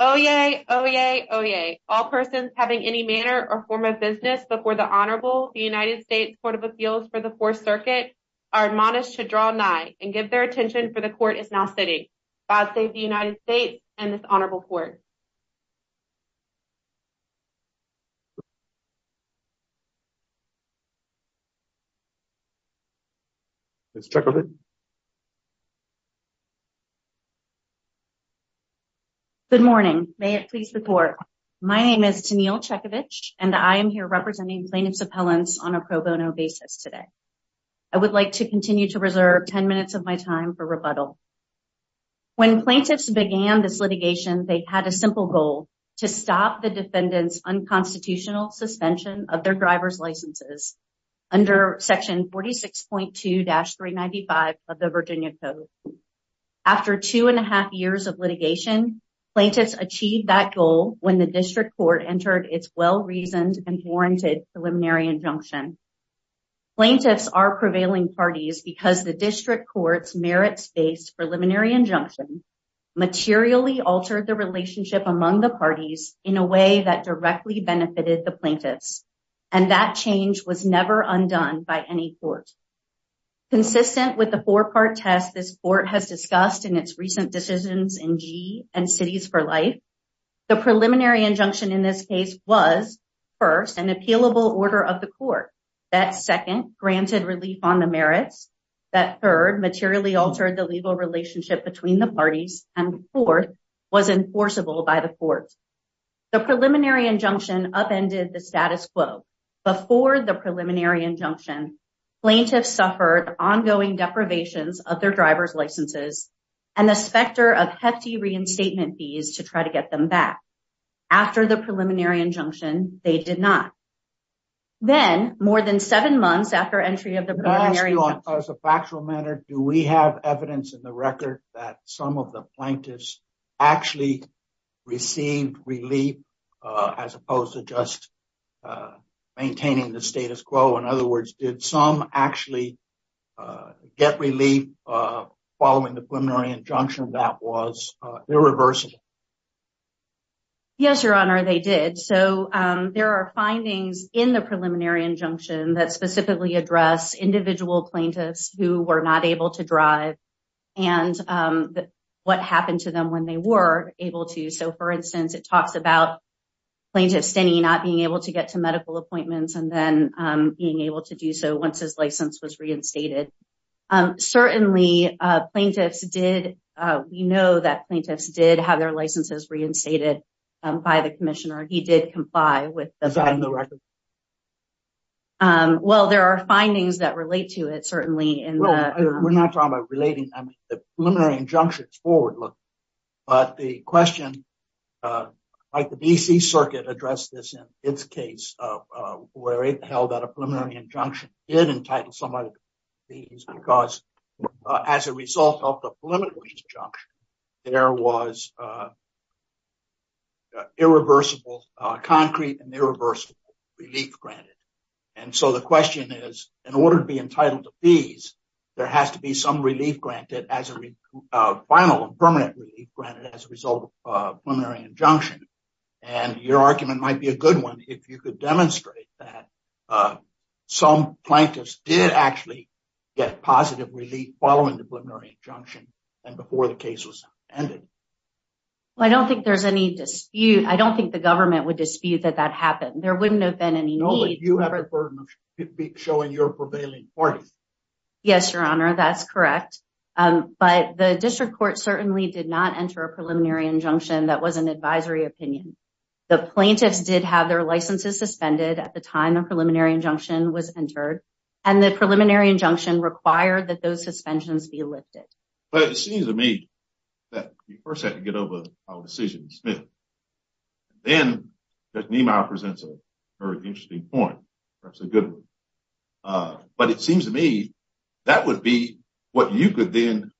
Oyez, oyez, oyez. All persons having any manner or form of business before the Honorable, the United States Court of Appeals for the Fourth Circuit, are admonished to draw nigh and give their attention for the Court is now sitting. I say the United States and this Honorable Court. Let's check on it. Good morning, may it please the court. My name is Camille Chekovich and I am here representing plaintiffs appellants on a pro bono basis today. I would like to continue to reserve 10 minutes of my time for rebuttal. When plaintiffs began this litigation, they had a simple goal to stop the defendant's unconstitutional suspension of their driver's licenses under section 46.2-395 of the Virginia Code. After two and a half years of litigation, plaintiffs achieved that goal when the district court entered its well-reasoned and warranted preliminary injunction. Plaintiffs are prevailing parties because the district court's merits-based preliminary injunction materially altered the relationship among the parties in a way that directly benefited the plaintiffs, and that change was never undone by any court. Consistent with the four-part test this court has discussed in its recent decisions in GE and Cities for Life, the preliminary injunction in this case was, first, an appealable order of the court, that second, granted relief on the merits, that third, materially altered the legal relationship between the parties, and fourth, was enforceable by the court. The preliminary injunction upended the status quo. Before the preliminary injunction, plaintiffs suffered ongoing deprivations of their driver's licenses and a specter of hefty reinstatement fees to try to get them back. After the preliminary injunction, they did not. Then, more than seven months after entry of the preliminary injunction... As a factual matter, do we have evidence in the record that some of the plaintiffs actually received relief, as opposed to just maintaining the status quo? In other words, did some actually get relief following the preliminary injunction that was irreversible? Yes, Your Honor, they did. So there are findings in the preliminary injunction that specifically address individual plaintiffs who were not able to drive and what happened to them when they were able to. So, for instance, it talks about plaintiff Finney not being able to get to medical appointments and then being able to do so once his license was reinstated. Certainly, we know that plaintiffs did have their licenses reinstated by the commissioner. He did comply with the... Well, there are findings that relate to it, certainly. We're not talking about relating. The preliminary injunction is forward-looking, but the question... The D.C. Circuit addressed this in its case where it held that a preliminary injunction did entitle somebody to fees because, as a result of the preliminary injunction, there was irreversible concrete and irreversible relief granted. And so the question is, in order to be entitled to fees, there has to be some relief granted as a final, permanent relief granted as a result of a preliminary injunction. And your argument might be a good one if you could demonstrate that some plaintiffs did actually get positive relief following the preliminary injunction and before the case was ended. Well, I don't think there's any dispute. I don't think the government would dispute that that happened. There wouldn't have been any need... No, but you have the burden of showing your prevailing point. Yes, Your Honor, that's correct. But the district court certainly did not enter a preliminary injunction that was an advisory opinion. The plaintiffs did have their licenses suspended at the time a preliminary injunction was entered, and the preliminary injunction required that those suspensions be lifted. But it seems to me that we first have to get over our decision to suspend. Then, Justice Niemeyer presents a very interesting point. That's a good one. But it seems to me that would be what you could then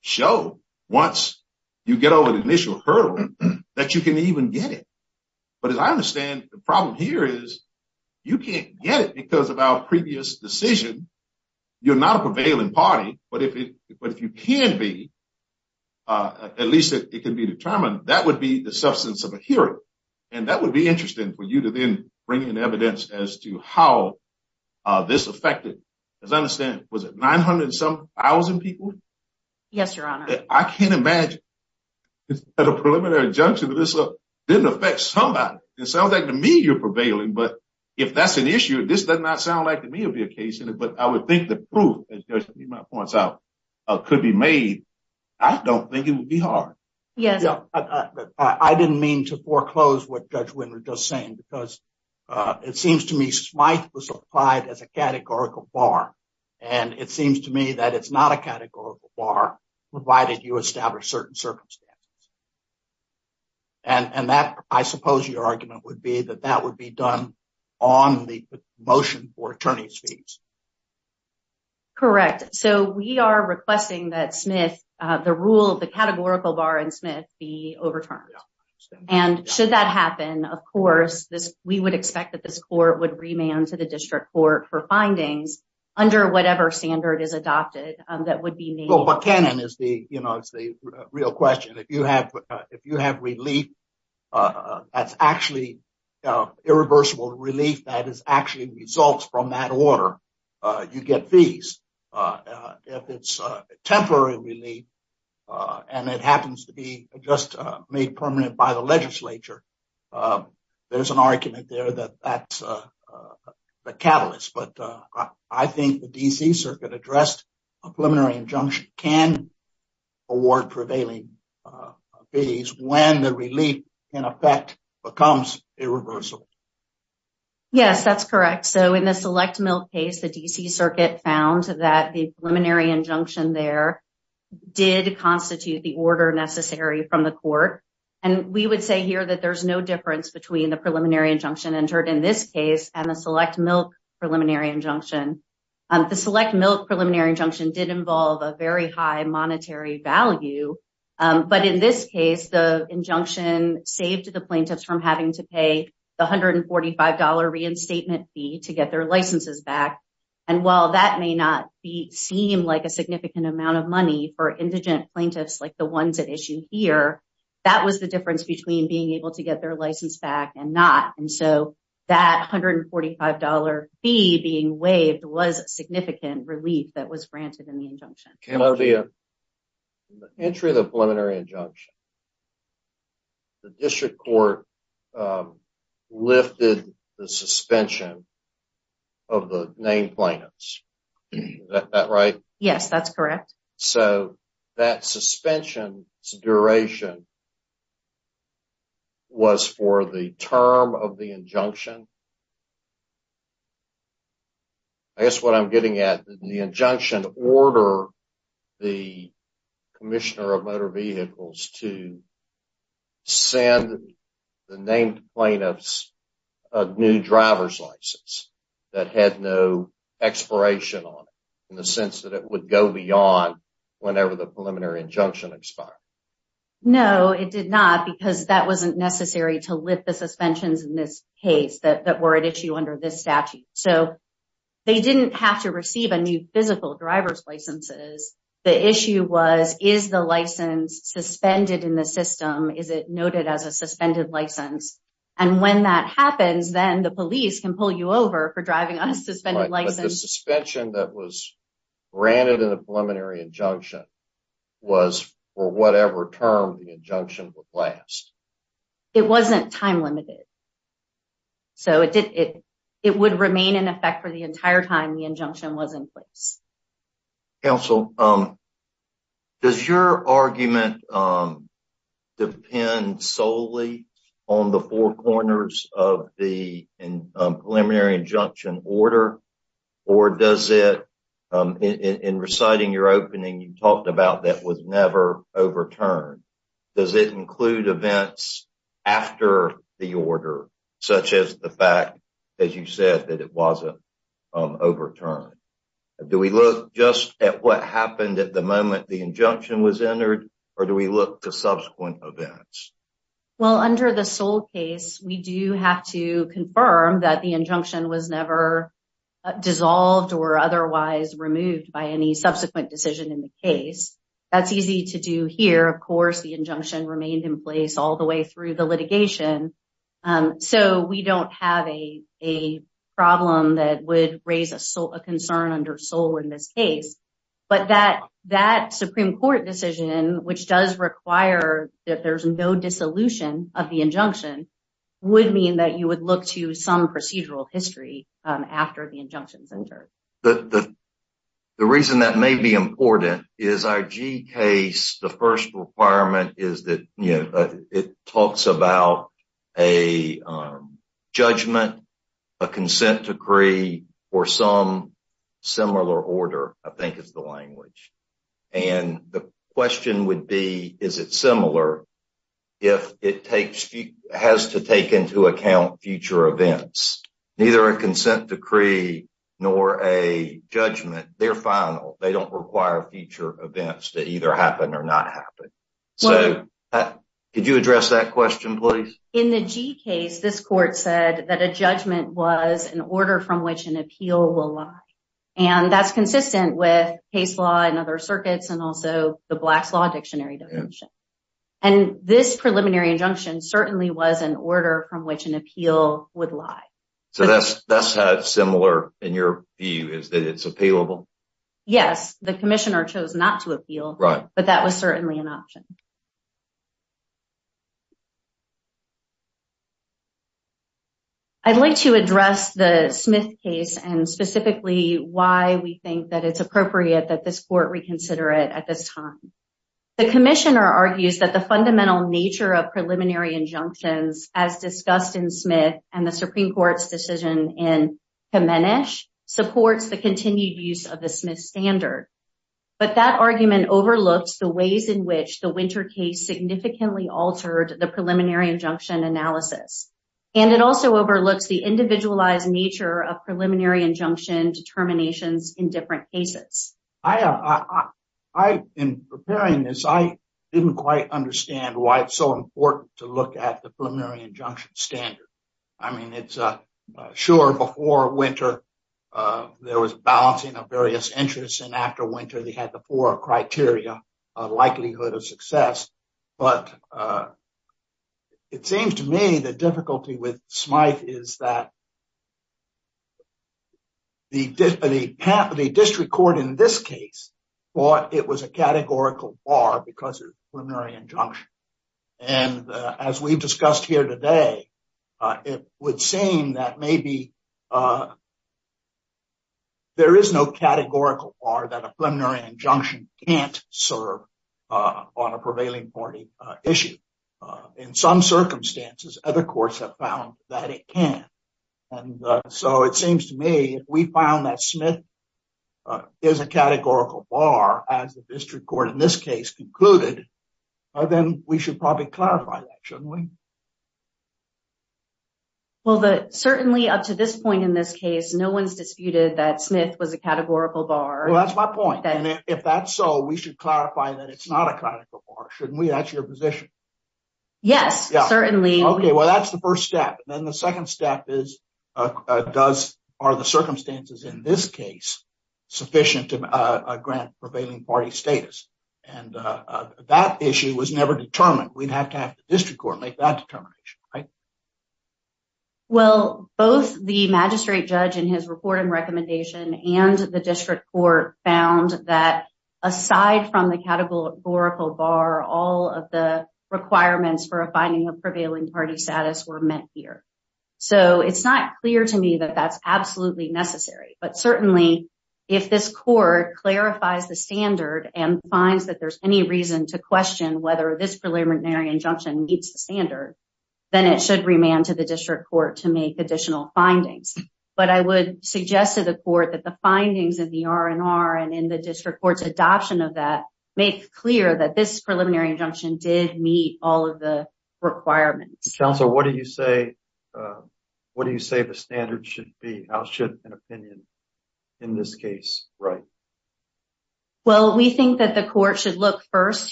show once you get over the initial hurdle that you can even get it. But as I understand, the problem here is you can't get it because of our previous decision. You're not a prevailing party, but if you can be, at least it can be determined, that would be the substance of a hearing. And that would be interesting for you to then bring in evidence as to how this affected, as I understand, was it 900 and some thousand people? Yes, Your Honor. I can't imagine that a preliminary injunction of this didn't affect somebody. It sounds like to me you're prevailing, but if that's an issue, this does not sound like to me it would be a case. But I would think the proof, as Justice Niemeyer points out, could be made. I don't think it would be hard. I didn't mean to foreclose what Judge Winner just said, because it seems to me Smythe was applied as a categorical bar, and it seems to me that it's not a categorical bar, provided you establish certain circumstances. And I suppose your argument would be that that would be done on the motion for attorney's fees. Correct. So we are requesting that Smythe, the rule, the categorical bar in Smythe be overturned. And should that happen, of course, we would expect that this court would remand to the district court for findings under whatever standard is adopted that would be made. Well, the canon is the real question. If you have relief that's actually irreversible relief that actually results from that order, you get fees. If it's temporary relief and it happens to be just made permanent by the legislature, there's an argument there that that's a catalyst. But I think the D.C. Circuit addressed a preliminary injunction can award prevailing fees when the relief, in effect, becomes irreversible. Yes, that's correct. So in the select milk case, the D.C. Circuit found that the preliminary injunction there did constitute the order necessary from the court. And we would say here that there's no difference between the preliminary injunction entered in this case and the select milk preliminary injunction. The select milk preliminary injunction did involve a very high monetary value. But in this case, the injunction saved the plaintiffs from having to pay $145 reinstatement fee to get their licenses back. And while that may not seem like a significant amount of money for indigent plaintiffs like the ones at issue here, that was the difference between being able to get their licenses back and not. And so that $145 fee being waived was a significant relief that was granted in the injunction. In the entry of the preliminary injunction, the district court lifted the suspension of the named plaintiffs. Is that right? Yes, that's correct. So that suspension's duration was for the term of the injunction. I guess what I'm getting at is the injunction order the Commissioner of Motor Vehicles to send the named plaintiffs a new driver's license that had no expiration on it, in the sense that it would go beyond whenever the preliminary injunction expired. No, it did not, because that wasn't necessary to lift the suspensions in this case that were at issue under this statute. So they didn't have to receive a new physical driver's licenses. The issue was, is the license suspended in the system? Is it noted as a suspended license? And when that happens, then the police can pull you over for driving on a suspended license. The suspension that was granted in the preliminary injunction was for whatever term the injunction would last. It wasn't time limited. So it would remain in effect for the entire time the injunction was in place. Counsel, does your argument depend solely on the four corners of the preliminary injunction order? Or does it, in reciting your opening, you talked about that was never overturned. Does it include events after the order, such as the fact, as you said, that it wasn't overturned? Do we look just at what happened at the moment the injunction was entered, or do we look to subsequent events? Well, under the Soule case, we do have to confirm that the injunction was never dissolved or otherwise removed by any subsequent decision in the case. That's easy to do here. Of course, the injunction remained in place all the way through the litigation. So we don't have a problem that would raise a concern under Soule in this case. But that Supreme Court decision, which does require that there's no dissolution of the injunction, would mean that you would look to some procedural history after the injunction is entered. The reason that may be important is our G case, the first requirement is that it talks about a judgment, a consent decree, or some similar order, I think is the language. And the question would be, is it similar if it has to take into account future events? Neither a consent decree nor a judgment, they're final. They don't require future events to either happen or not happen. So could you address that question, please? In the G case, this court said that a judgment was an order from which an appeal will lie. And that's consistent with case law and other circuits and also the Black Law Dictionary definition. And this preliminary injunction certainly was an order from which an appeal would lie. So that's had similar, in your view, is that it's appealable? Yes, the commissioner chose not to appeal, but that was certainly an option. I'd like to address the Smith case and specifically why we think that it's appropriate that this court reconsider it at this time. The commissioner argues that the fundamental nature of preliminary injunctions, as discussed in Smith and the Supreme Court's decision in Kemenes, supports the continued use of the Smith standard. But that argument overlooks the ways in which the Winter case significantly altered the preliminary injunction, analysis. And it also overlooks the individualized nature of preliminary injunction determinations in different cases. In preparing this, I didn't quite understand why it's so important to look at the preliminary injunction standard. I mean, it's sure before Winter, there was balancing of various interests. And after Winter, they had the four criteria of likelihood of success. But it seems to me the difficulty with Smith is that the district court in this case thought it was a categorical bar because of preliminary injunction. And as we've discussed here today, it would seem that maybe there is no categorical bar that a preliminary injunction can't serve on a prevailing party issue. In some circumstances, other courts have found that it can. And so it seems to me, if we found that Smith is a categorical bar, as the district court in this case concluded, then we should probably clarify that, shouldn't we? Well, certainly up to this point in this case, no one's disputed that Smith was a categorical bar. Well, that's my point. If that's so, we should clarify that it's not a categorical bar. Shouldn't we? That's your position. Yes, certainly. Okay. Well, that's the first step. And then the second step is, are the circumstances in this case sufficient to grant prevailing party status? And that issue was never determined. We've had to ask the district court, make that determination, right? Well, both the magistrate judge in his report and recommendation and the district court found that aside from the categorical bar, all of the requirements for a finding of prevailing party status were met here. So it's not clear to me that that's absolutely necessary. But certainly, if this court clarifies the standard and finds that there's any reason to question whether this preliminary injunction meets the standard, then it should remand to the district court to make additional findings. But I would suggest to the court that the findings of the R&R and in the district court's adoption of that makes clear that this preliminary injunction did meet all of the requirements. Counselor, what do you say the standard should be? How should an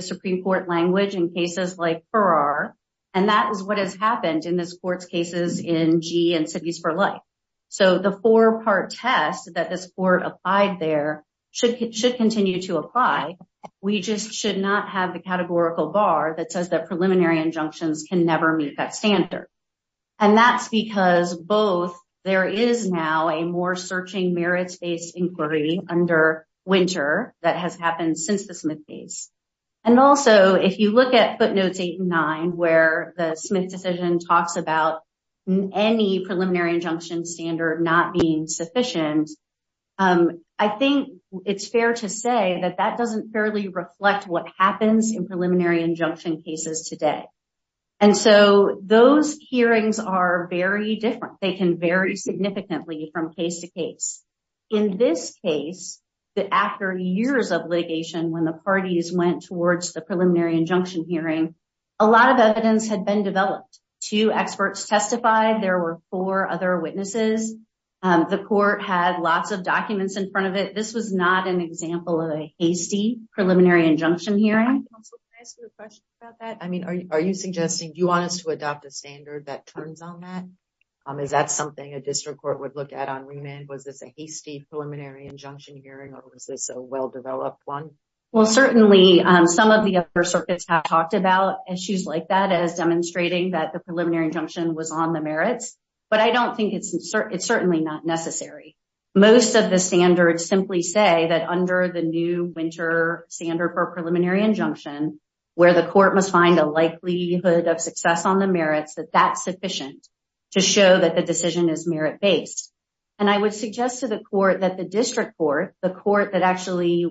Supreme Court language in cases like Farrar? And that is what has happened in this court's cases in G and cities for life. So the four-part test that this court applied there should continue to apply. We just should not have the categorical bar that says that preliminary injunctions can never meet that standard. And that's because both there is now a more searching merits-based inquiry under Winter that has happened since the Smith case. And also, if you look at footnotes 8 and 9, where the Smith decision talks about any preliminary injunction standard not being sufficient, I think it's fair to say that that doesn't fairly reflect what happens in preliminary injunction cases today. And so those hearings are very different. They can vary significantly from case to case. In this case, after years of litigation when the parties went towards the preliminary injunction hearing, a lot of evidence had been developed. Two experts testified. There were four other witnesses. The court had lots of documents in front of it. This was not an example of a hasty preliminary injunction hearing. Counselor, can I ask you a question about that? I mean, are you suggesting you want us to adopt a standard that turns on that? Is that something a Was this a hasty preliminary injunction hearing or was this a well-developed one? Well, certainly, some of the upper circuits have talked about issues like that as demonstrating that the preliminary injunction was on the merits. But I don't think it's certainly not necessary. Most of the standards simply say that under the new Winter standard for preliminary injunction, where the court must find a likelihood of success on the merits, that that's sufficient to show that the decision is merit-based. I would suggest to the court that the district court, the court that actually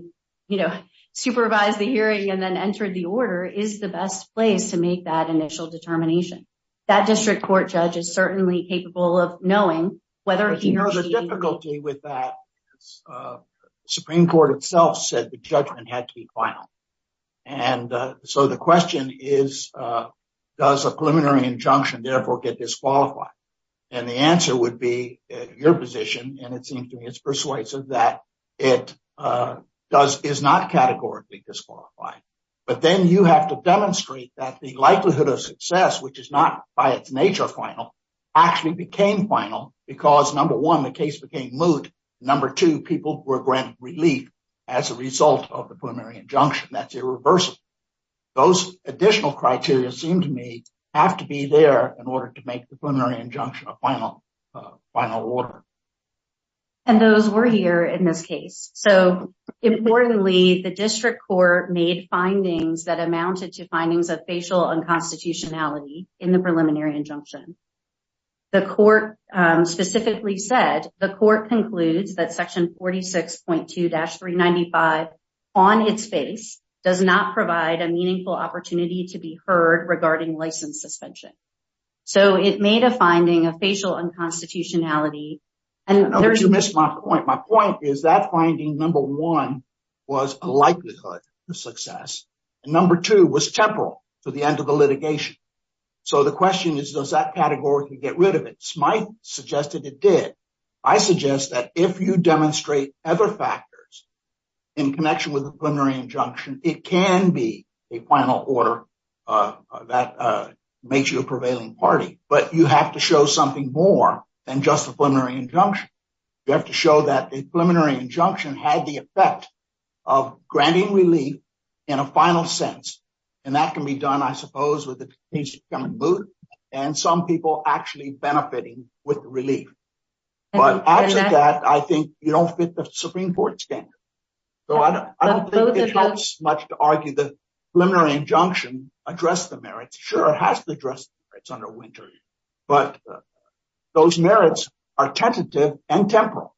supervised the hearing and then entered the order, is the best place to make that initial determination. That district court judge is certainly capable of knowing whether he or she... There's a difficulty with that. Supreme Court itself said the judgment had to be final. The question is, does a preliminary injunction therefore get disqualified? And the answer would be, in your position, and it seems to me it's persuasive, that it is not categorically disqualified. But then you have to demonstrate that the likelihood of success, which is not by its nature final, actually became final because, number one, the case became moot. Number two, people were granted relief as a result of the preliminary injunction. That's irreversible. Those additional criteria seem to me have to be there in order to make the preliminary injunction a final order. And those were here in this case. So, importantly, the district court made findings that amounted to findings of facial unconstitutionality in the preliminary injunction. The court specifically said, the court concludes that Section 46.2-395, on its face, does not provide a meaningful opportunity to be heard regarding license suspension. So, it made a finding of facial unconstitutionality and... There you missed my point. My point is that finding, number one, was a likelihood of success. And number two was temporal to the end of the litigation. So, the question is, does that demonstrate other factors in connection with the preliminary injunction? It can be a final order that makes you a prevailing party, but you have to show something more than just a preliminary injunction. You have to show that the preliminary injunction had the effect of granting relief in a final sense. And that can be done, I suppose, with the case becoming moot and some people actually benefiting with the relief. But after that, I think, you don't fit the Supreme Court standard. So, I don't think it helps much to argue that preliminary injunction addressed the merits. Sure, it has to address the merits under Wintory, but those merits are tentative and temporal.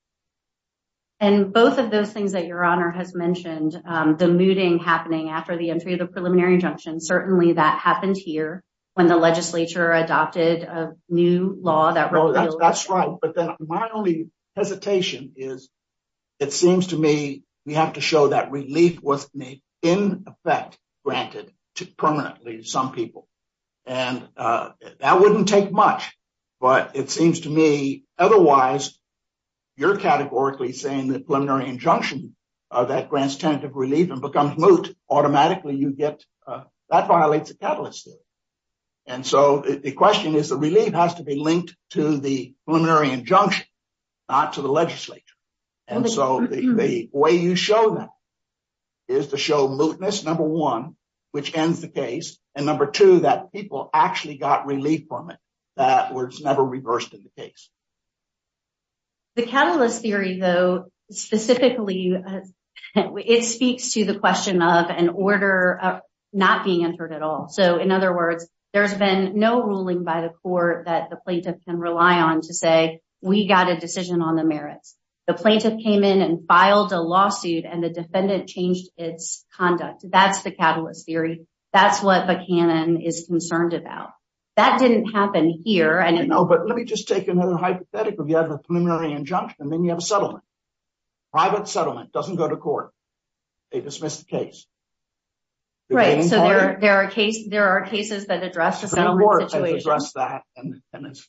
And both of those things that Your Honor has mentioned, the mooting happening after the entry of the preliminary injunction, certainly that happened here when the legislature adopted a new law that probably... That's right. But then my only hesitation is, it seems to me, we have to show that relief was in effect granted to permanently some people. And that wouldn't take much, but it seems to me, otherwise, you're categorically saying the preliminary injunction that grants tentative relief and becomes moot, automatically you get... And so, the question is, the relief has to be linked to the preliminary injunction, not to the legislature. And so, the way you show that is to show mootness, number one, which ends the case, and number two, that people actually got relief from it, that was never reversed in the case. The catalyst theory, though, specifically, it speaks to the question of an order not being entered at all. So, in other words, there's been no ruling by the court that the plaintiff can rely on to say, we got a decision on the merits. The plaintiff came in and filed a lawsuit and the defendant changed its conduct. That's the catalyst theory. That's what Buchanan is concerned about. That didn't happen here. No, but let me just take another hypothetical. You have a preliminary injunction and then you have a settlement. Private settlement, doesn't go to court. They dismiss the case. Right. So, there are cases that address the... The court has addressed that, and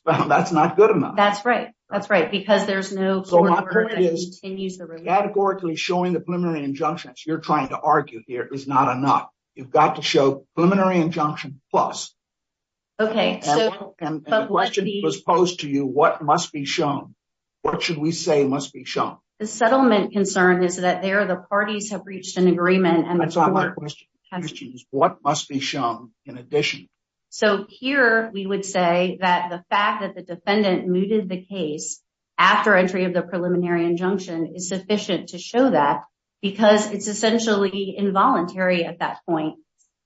that's not good enough. That's right. That's right. Because there's no... So, my point is, categorically showing the preliminary injunctions, you're trying to argue here, is not enough. You've got to show preliminary injunction plus. Okay. The question was posed to you, what must be shown? What should we say must be shown? The settlement concern is that there are the parties have reached an agreement and... That's not my question. My question is, what must be shown in addition? So, here, we would say that the fact that the defendant mooted the case after entry of the preliminary injunction is sufficient to show that because it's essentially involuntary at that point.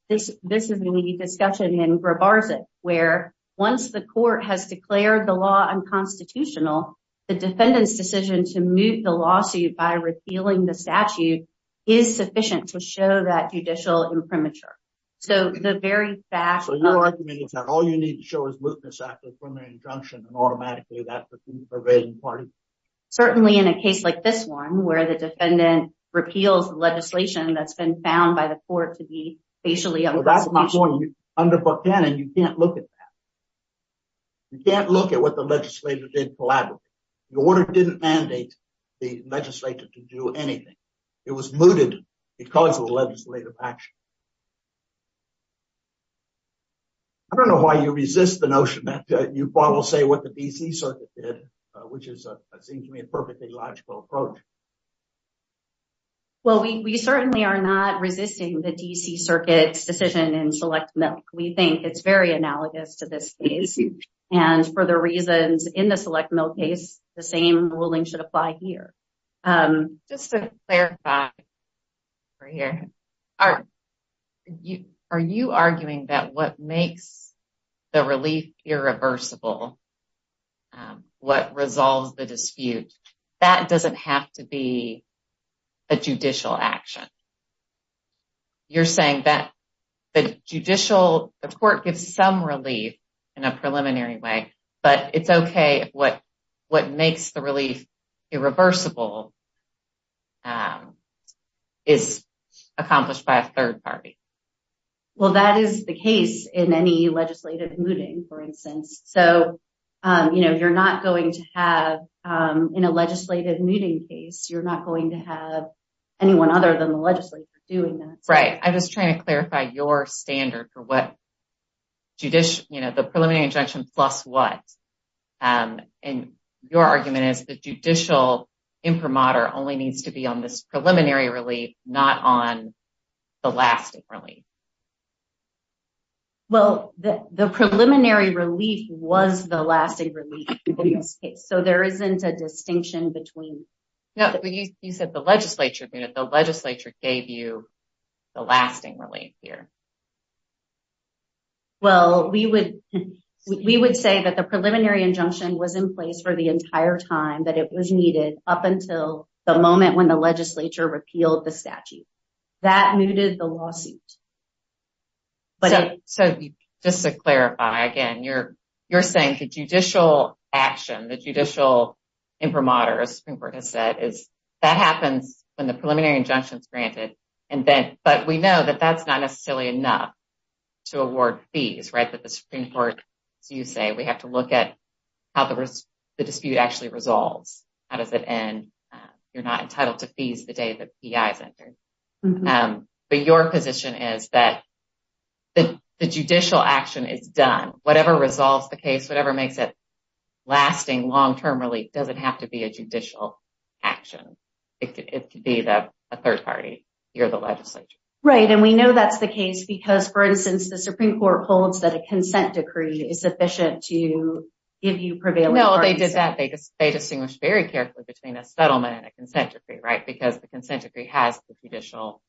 This is a discussion in gravarsis, where once the court has declared the law unconstitutional, the defendant's decision to move the lawsuit by repealing the statute is sufficient to show that judicial imprimatur. So, the very fact... So, you're arguing that all you need to show is moot this after preliminary injunction and automatically that's the pervading party? Certainly, in a case like this one, where the defendant repealed the legislation that's been found by the court to be spatially unconstitutional. Well, that's not going to be under book 10 and you can't look at that. You can't look at what the legislature did collaboratively. The order didn't mandate the legislature to do anything. It was mooted because of the legislative action. I don't know why you resist the notion that you will say what the DC Circuit did, which is, I think to me, a perfectly logical approach. Well, we certainly are not resisting the DC Circuit's decision in select milk. We think it's very analogous to this case. And for the reasons in the select milk case, the same ruling should apply here. Just to clarify, are you arguing that what makes the relief irreversible, what resolves the dispute, that doesn't have to be a judicial action? You're saying that the judicial court gives some relief in a preliminary way, but it's okay what makes the relief irreversible is accomplished by a third party. Well, that is the case in any legislative mooting, for instance. So, you're not going to have in a legislative mooting case, you're not going to have anyone other than the legislature doing that. Right. I was just trying to clarify your standard for what the preliminary injunction plus what. And your argument is the judicial inframotor only needs to be on this preliminary relief, not on the lasting relief. Well, the preliminary relief was the lasting relief in this case. So, there isn't a distinction between... Yeah, but you said the legislature gave you the lasting relief here. Well, we would say that the preliminary injunction was in place for the entire time that it was needed up until the moment when the legislature repealed the statute. That mooted the lawsuit. So, just to clarify, again, you're saying the judicial action, the judicial inframotor, as Kimber has said, that happens when the preliminary injunction is not necessary enough to award fees, right? So, the Supreme Court, you say, we have to look at how the dispute actually resolves. How does it end? You're not entitled to fees the day the PI is entered. But your position is that the judicial action is done. Whatever resolves the case, whatever makes it lasting long-term relief doesn't have to be a judicial action. It could be that a third party or the legislature. Right, and we know that's the case because, for instance, the Supreme Court holds that a consent decree is sufficient to give you prevailing... No, they did that. They distinguished very carefully between a settlement and a consent decree, right? Because the consent decree has the judicial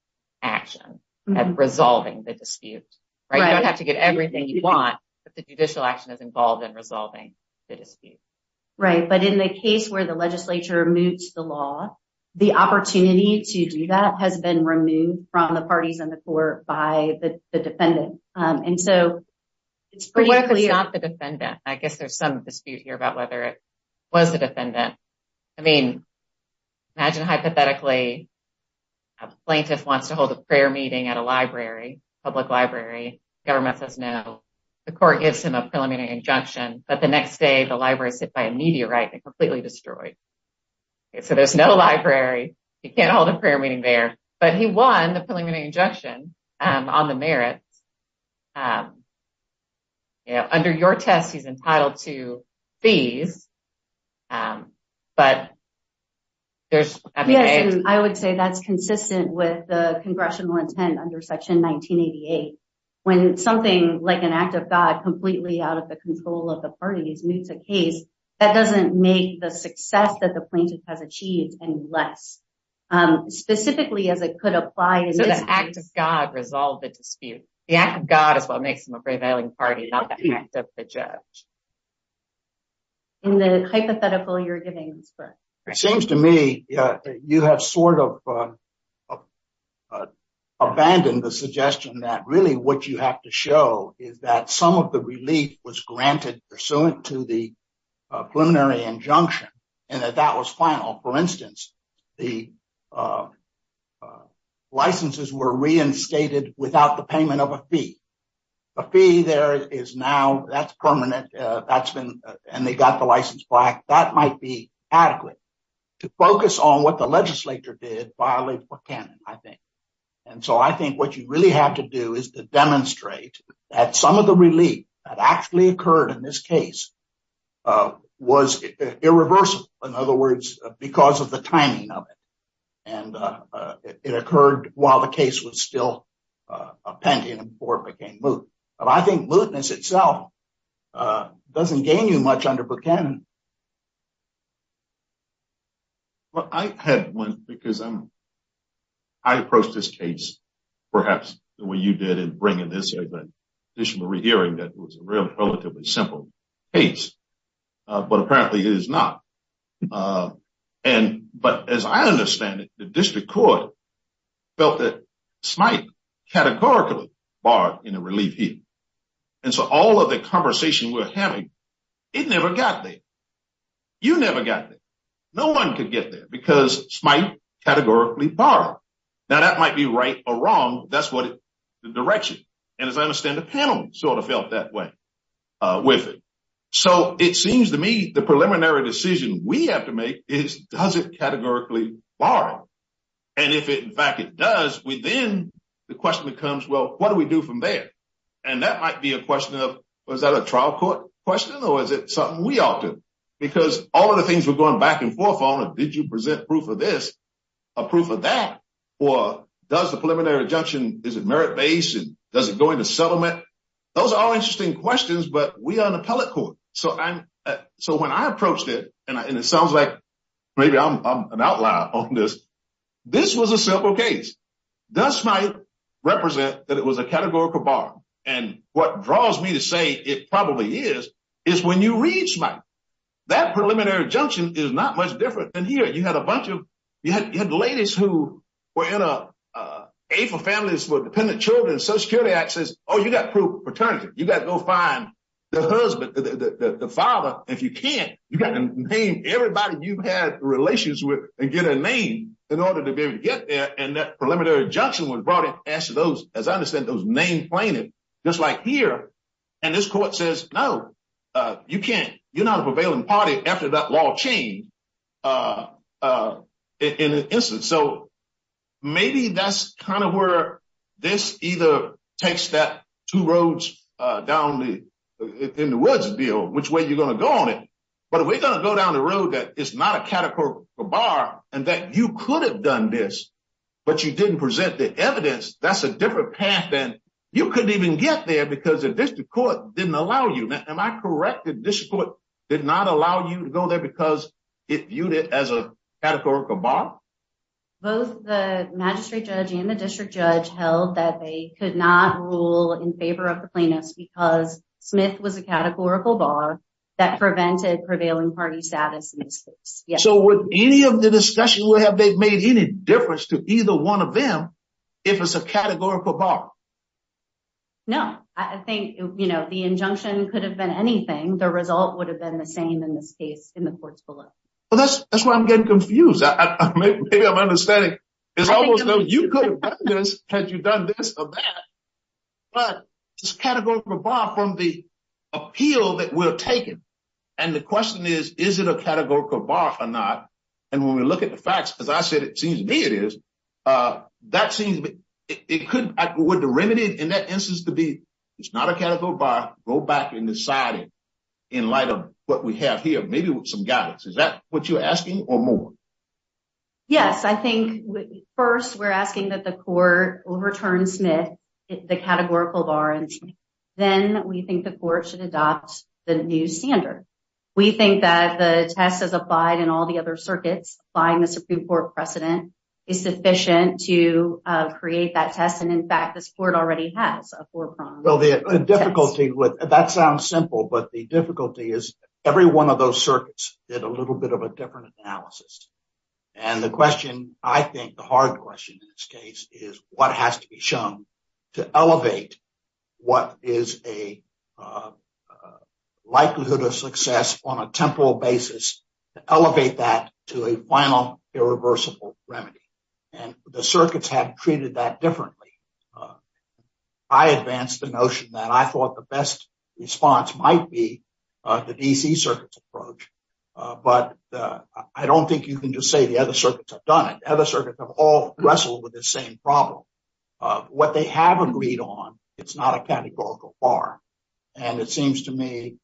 action of resolving the dispute, right? You don't have to get everything you want, but the judicial action is involved in resolving the dispute. Right, but in the case where the legislature moves the law, the opportunity to do that has been removed from the parties in the court by the defendant. And so, it's pretty clear... Well, it's not the defendant. I guess there's some dispute here about whether it was the defendant. I mean, imagine hypothetically a plaintiff wants to hold a prayer meeting at a library, public library. Government says no. The court gives him a preliminary injunction, but the next day the library is hit by a meteorite and completely destroyed. So, there's no library. He can't hold a prayer meeting there, but he won the preliminary injunction on the merit. Under your test, he's entitled to leave, but there's... I would say that's consistent with the congressional intent under Section 1988. When something like an act of God completely out of the control of the parties meets the case, that doesn't make the success that the plaintiff has achieved any less. Specifically, as it could apply... The act of God resolved the dispute. The act of God, if I may say so myself, imparted out the act of the judge. In the hypothetical you're giving... It seems to me that you have sort of abandoned the suggestion that really what you have to show is that some of the relief was granted pursuant to the preliminary injunction, and that that was final. For instance, the licenses were reinstated without the payment of a fee. A fee there is now... That's permanent. And they got the license back. That might be adequate to focus on what the legislature did violate for canon, I think. And so, I think what you really have to do is to demonstrate that some of the relief that actually occurred in this case was irreversible. In other words, because of the timing of it. And it occurred while the case was still a pending before it became moot. But I think mootness itself doesn't gain you much under Buchanan. Well, I had one because I'm... I approached this case, perhaps, the way you did in bringing this as an additional rehearing that was a relatively simple case. But apparently, it is not. But as I understand it, the district court felt that Smythe categorically borrowed in a relief hearing. And so, all of the conversation we're having, it never got there. You never got there. No one could get there because Smythe categorically borrowed. Now, that might be right or wrong. That's the direction. And as I understand, the panel sort of felt that way with it. So, it seems to me the preliminary decision we have to make is, does it categorically borrow? And if, in fact, it does, then the question becomes, well, what do we do from there? And that might be a question of, was that a trial court question or is it something we offered? Because all of the things were going back and forth on, did you present proof of this or proof of that? Or does the preliminary injunction, is it merit-based and does it go into settlement? Those are all interesting questions, but we are the appellate court. So, when I approached it, and it sounds like maybe I'm an outlier on this, this was a simple case. Does Smythe represent that it was a categorical borrow? And what draws me to say it probably is, is when you read Smythe, that preliminary injunction is not much different than here. You had a bunch of, you had ladies who were in a aid for families for dependent children, Social Security Act says, oh, you got to prove paternity. You got to go find the husband, the father. If you can't, you got to name everybody you've had relations with and get a name in order to be able to get there. And that preliminary injunction was brought up as to those, as I understand, those name plaintiffs, just like here. And this court says, no, you can't, you're not a prevailing party after that law changed in this instance. So, maybe that's kind of where this either takes that two roads down in the woods deal, which way you're going to go on it. But if we're going to go down the road that it's not a categorical borrow and that you could have done this, but you didn't present the evidence, that's a different path and you couldn't even get there because the district court didn't allow you. Am I correct that this court did not allow you to go there because it viewed it as a categorical bar? Both the magistrate judge and the district judge held that they could not rule in favor of the plaintiffs because Smith was a categorical bar that prevented prevailing party status. So, with any of the discussion, would have they made any difference to either one of them if it's a categorical bar? No, I think, you know, the injunction could have been anything. The result would have been the same in this case in the court below. Well, that's why I'm getting confused. I'm making a misunderstanding. It's almost as though you could have done this had you done this or that. But it's a categorical bar from the appeal that we're taking. And the question is, is it a categorical bar or not? And when we look at the facts, as I said, it seems to me it is. That seems, it could, would the remedy in that instance to be, it's not a categorical bar, go back and decide in light of what we have here, maybe some guidance. Is that what you're asking or more? Yes, I think first we're asking that the court overturn Smith, the categorical bar, then we think the court should adopt the new five and all the other circuits, find the Supreme Court precedent is sufficient to create that test. And in fact, this court already has a four-prong. Well, the difficulty with, that sounds simple, but the difficulty is every one of those circuits did a little bit of a different analysis. And the question, I think the hard question in this case is what has to be shown to elevate what is a likelihood of success on a temporal basis to elevate that to a final irreversible remedy. And the circuits have treated that differently. I advanced the notion that I thought the best response might be the DC circuits approach. But I don't think you can just say the circuits have done it. Other circuits have all wrestled with the same problem. What they haven't agreed on, it's not a categorical bar. And it seems to me,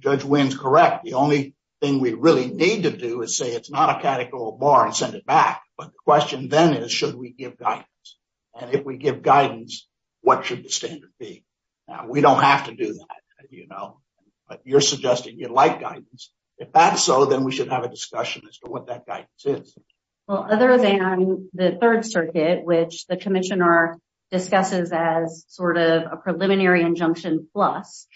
Judge Williams is correct. The only thing we really need to do is say it's not a categorical bar and send it back. But the question then is, should we give guidance? And if we give guidance, what should the standard be? We don't have to do that, you know, but you're suggesting you like guidance. If that's so, then we should have a guidance. Well, other than the third circuit, which the Commissioner discusses as sort of a preliminary injunction plus,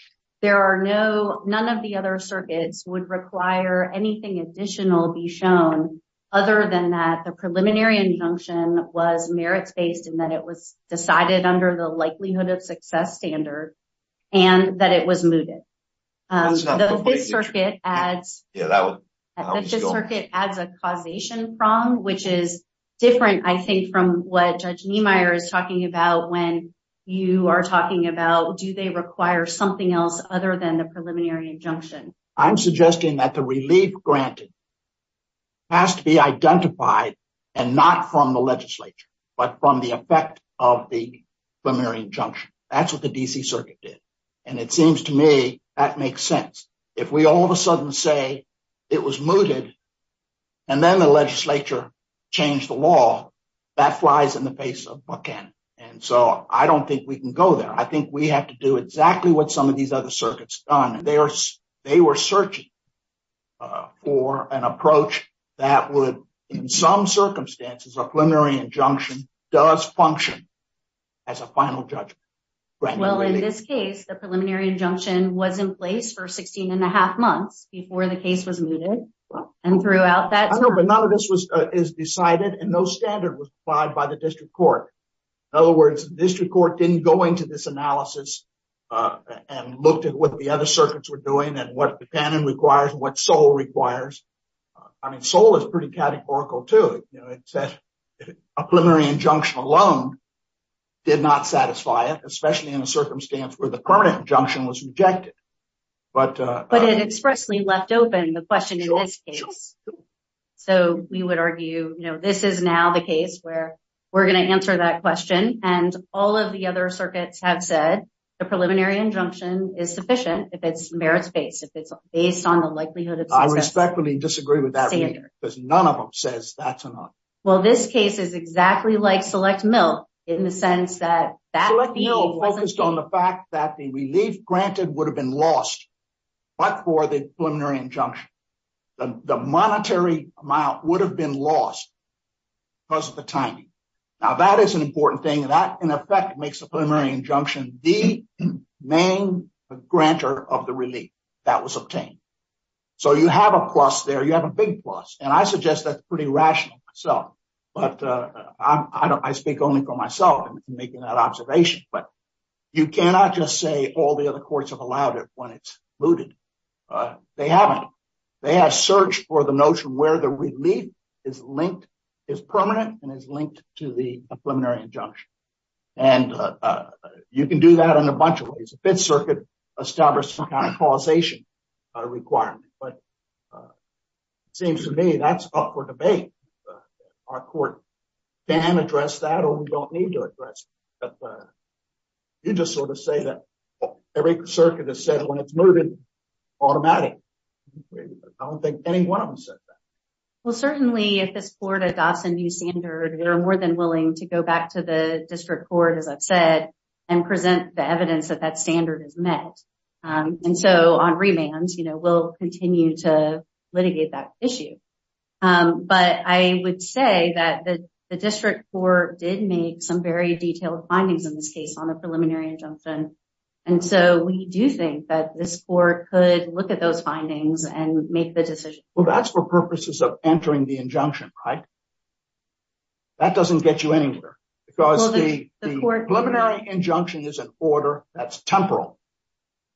there are no, none of the other circuits would require anything additional be shown other than that the preliminary injunction was merit-based and that it was decided under the which is different, I think, from what Judge Niemeyer is talking about when you are talking about do they require something else other than the preliminary injunction? I'm suggesting that the relief granted has to be identified and not from the legislature, but from the effect of the preliminary injunction. That's what the DC circuit did. And it seems to me that makes sense. If we all of a sudden say it was mooted and then the legislature changed the law, that flies in the face of Buchanan. And so I don't think we can go there. I think we have to do exactly what some of these other circuits have done. They were searching for an approach that would, in some circumstances, a preliminary injunction does function as a final judgment. Well, in this case, the preliminary injunction was in place for 16 and a half months before the case was mooted and throughout that. No, but none of this was, is decided and no standard was applied by the district court. In other words, the district court didn't go into this analysis and looked at what the other circuits were doing and what Buchanan requires, what SOLE requires. I mean, SOLE is pretty categorical, too. A preliminary injunction alone did not satisfy it, especially in a circumstance where the permanent injunction was rejected. But it expressly left open the question in this case. So we would argue, you know, this is now the case where we're going to answer that question. And all of the other circuits have said the preliminary injunction is sufficient if it's merits-based, if it's based on the likelihood of the- I respectfully disagree with that because none of them says that's enough. Well, this case is exactly like SELECT-MILT in the sense that SELECT-MILT focused on the fact that the relief granted would have been lost but for the preliminary injunction. The monetary amount would have been lost because of the timing. Now, that is an important thing. That, in effect, makes the preliminary injunction the main grantor of the relief that was obtained. So you have a plus there. You have a big plus. And I suggest that's observation. But you cannot just say all the other courts have allowed it when it's mooted. They haven't. They have searched for the notion where the relief is linked, is permanent, and is linked to the preliminary injunction. And you can do that in a bunch of ways. The Fifth Circuit established some kind of causation requirement. But it seems to me that's for debate. Our court can address that or we don't need to address it. You just sort of say that every circuit has said when it's mooted, automatic. I don't think any one of them said that. Well, certainly, if this court adopts a new standard, they're more than willing to go back to the district court, as I've said, and present the evidence that that standard is met. And so, on remand, we'll continue to litigate that issue. But I would say that the district court did make some very detailed findings in this case on the preliminary injunction. And so, we do think that this court could look at those findings and make the decision. Well, that's for purposes of entering the injunction, right? That doesn't get you anywhere. Because the preliminary injunction is an order that's temporal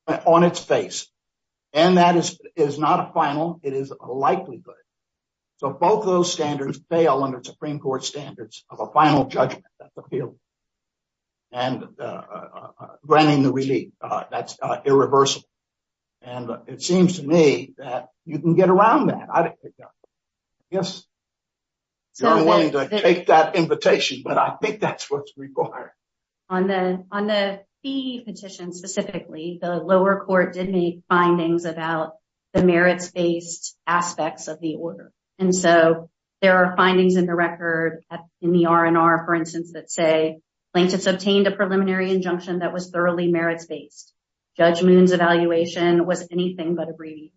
on its face. And that is not a final. It is a likelihood. So, both of those standards fail under Supreme Court standards of a final judgment that's appealed. And granting the relief, that's irreversible. And it seems to me that you can get around that. I don't think that. I guess you're willing to take that invitation, but I think that's required. On the PE petition specifically, the lower court did make findings about the merits-based aspects of the order. And so, there are findings in the record in the R&R, for instance, that say, Plankus obtained a preliminary injunction that was thoroughly merits-based. Judge Moon's evaluation was anything but a brief.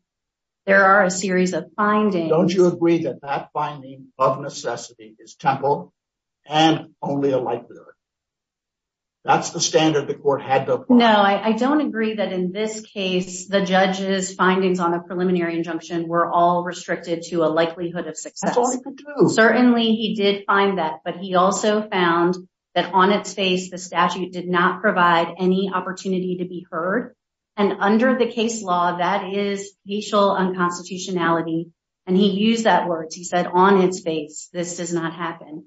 There are a series of findings. Don't you agree that that finding of a preliminary injunction is irreversible? That's the standard the court had before. No, I don't agree that in this case, the judge's findings on a preliminary injunction were all restricted to a likelihood of success. That's all he could do. Certainly, he did find that. But he also found that on its face, the statute did not provide any opportunity to be heard. And under the case law, that is facial unconstitutionality. And he used that word. He said, on its face, this does not happen.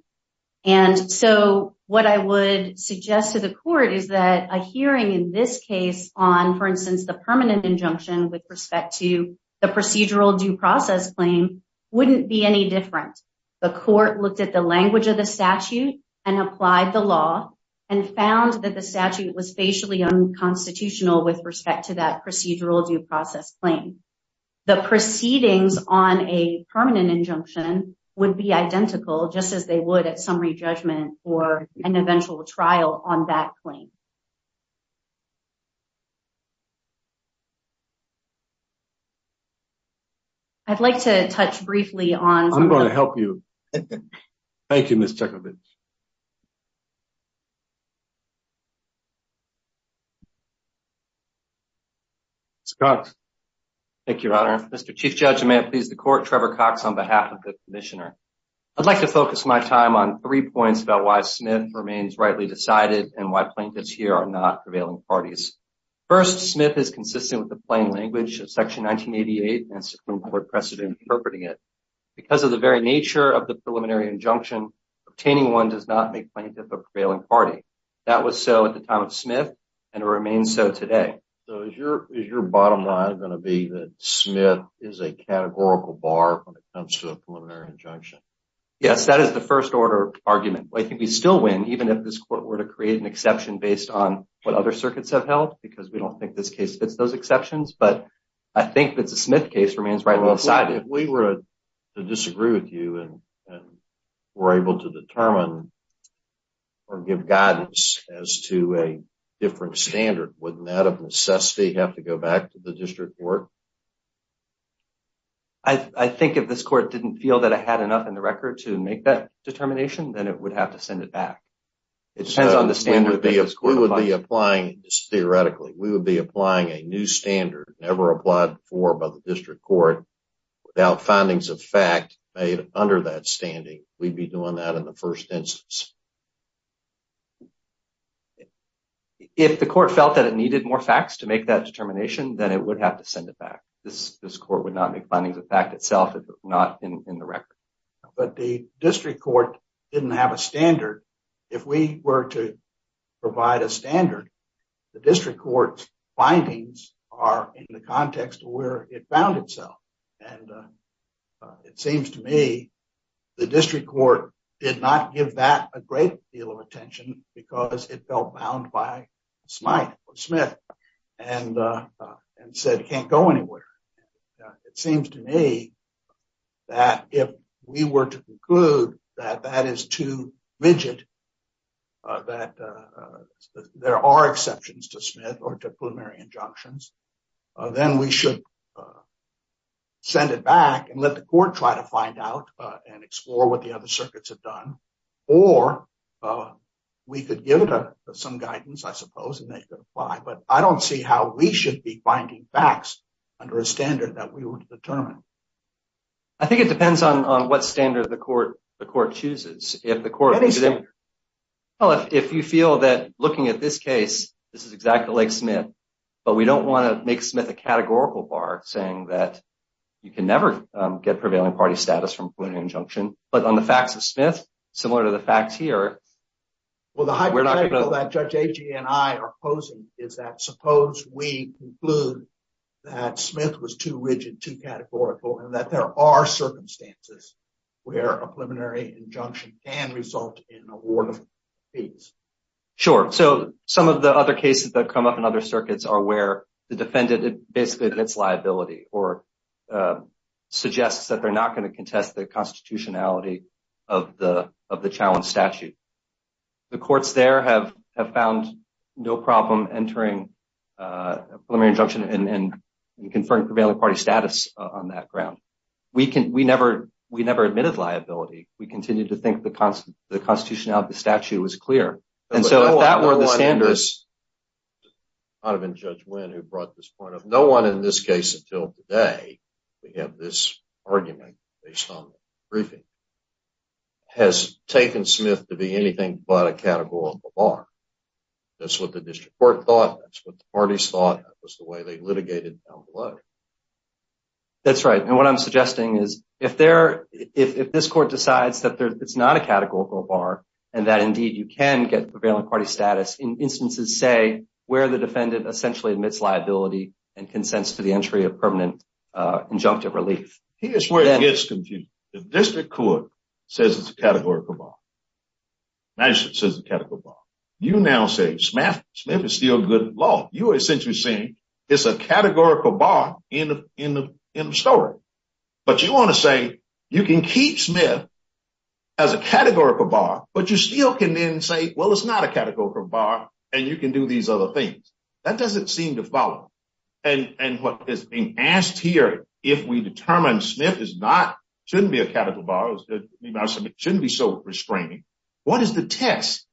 And so, what I would suggest to the court is that a hearing in this case on, for instance, the permanent injunction with respect to the procedural due process claim wouldn't be any different. The court looked at the language of the statute and applied the law and found that the statute was facially unconstitutional with respect to that procedural due process claim. The proceedings on a permanent injunction would be identical, just as they would at summary judgment or an eventual trial on that claim. I'd like to touch briefly on- I'm going to help you. Thank you, Ms. Chekhovitz. Scott. Thank you, Your Honor. Mr. Chief Judge, I'm going to please the court, Trevor Cox, on behalf of the commissioner. I'd like to focus my time on three points about why Smith remains rightly decided and why plaintiffs here are not prevailing parties. First, Smith is consistent with the plain language of Section 1988 and Supreme Court precedent interpreting it. Because of the very nature of the preliminary injunction, obtaining one does not make plaintiffs a prevailing party. That was so at the time of Smith and it remains so today. So is your bottom line going to be that Smith is a categorical bar when it comes to a preliminary injunction? Yes, that is the first order argument. But I think we'd still win even if this court were to create an exception based on what other circuits have held because we don't think this case fits those exceptions. But I think that the Smith case remains rightly decided. If we were to disagree with you and were able to determine or give guidance as to a different standard, wouldn't that, of necessity, have to go back to the district court? I think if this court didn't feel that it had enough in the record to make that determination, then it would have to send it back. It depends on the standard. We would be applying this theoretically. We would be applying a new standard never applied before by the district court without findings of fact under that standing. We'd be doing that in the first instance. If the court felt that it needed more facts to make that determination, then it would have to send it back. This court would not be finding the fact itself if it were not in the record. But the district court didn't have a standard. If we were to provide a standard, the district court's findings are in the context of where it found itself. And it seems to me the district court did not give that a great deal of attention because it felt bound by Smith and said it can't go anywhere. It seems to me that if we were to rigid that there are exceptions to Smith or to preliminary injunctions, then we should send it back and let the court try to find out and explore what the other circuits have done. Or we could give it some guidance, I suppose, and they could apply. But I don't see how we should be finding facts under a standard that we would determine. I think it depends on what standard the court chooses. If you feel that looking at this case, this is exactly like Smith, but we don't want to make Smith a categorical bar saying that you can never get prevailing party status from a preliminary injunction. But on the facts of Smith, similar to the facts here... Well, the hypothetical that Judge Agee and I are opposing is that suppose we conclude that Smith was too rigid, too categorical, and that there are circumstances where a preliminary injunction can result in awarding fees. Sure. So some of the other cases that come up in other circuits are where the defendant basically admits liability or suggests that they're not going to contest the constitutionality of the challenge statute. The courts there have found no problem entering a preliminary injunction and confirming prevailing party status on that ground. We never admitted liability. We continued to think the constitutionality of the statute was clear. No one in this case until today to have this argument based on the briefing has taken Smith to be anything but a categorical bar. That's what the district court thought. That's what the parties thought. That was the way they litigated down the road. That's right. And what I'm suggesting is if this court decides that it's not a categorical bar and that indeed you can get prevailing party status in instances, say, where the defendant essentially admits liability and consents to the entry of permanent injunctive relief... Here's where it gets confusing. The district court says it's a categorical bar. Now it says it's a categorical bar. You now say Smith is still good in law. You are essentially saying it's a categorical bar in the story. But you want to say you can keep Smith as a categorical bar, but you still can then say, well, it's not a categorical bar, and you can do these other things. That doesn't seem to follow. And what is being asked here, if we what is the test?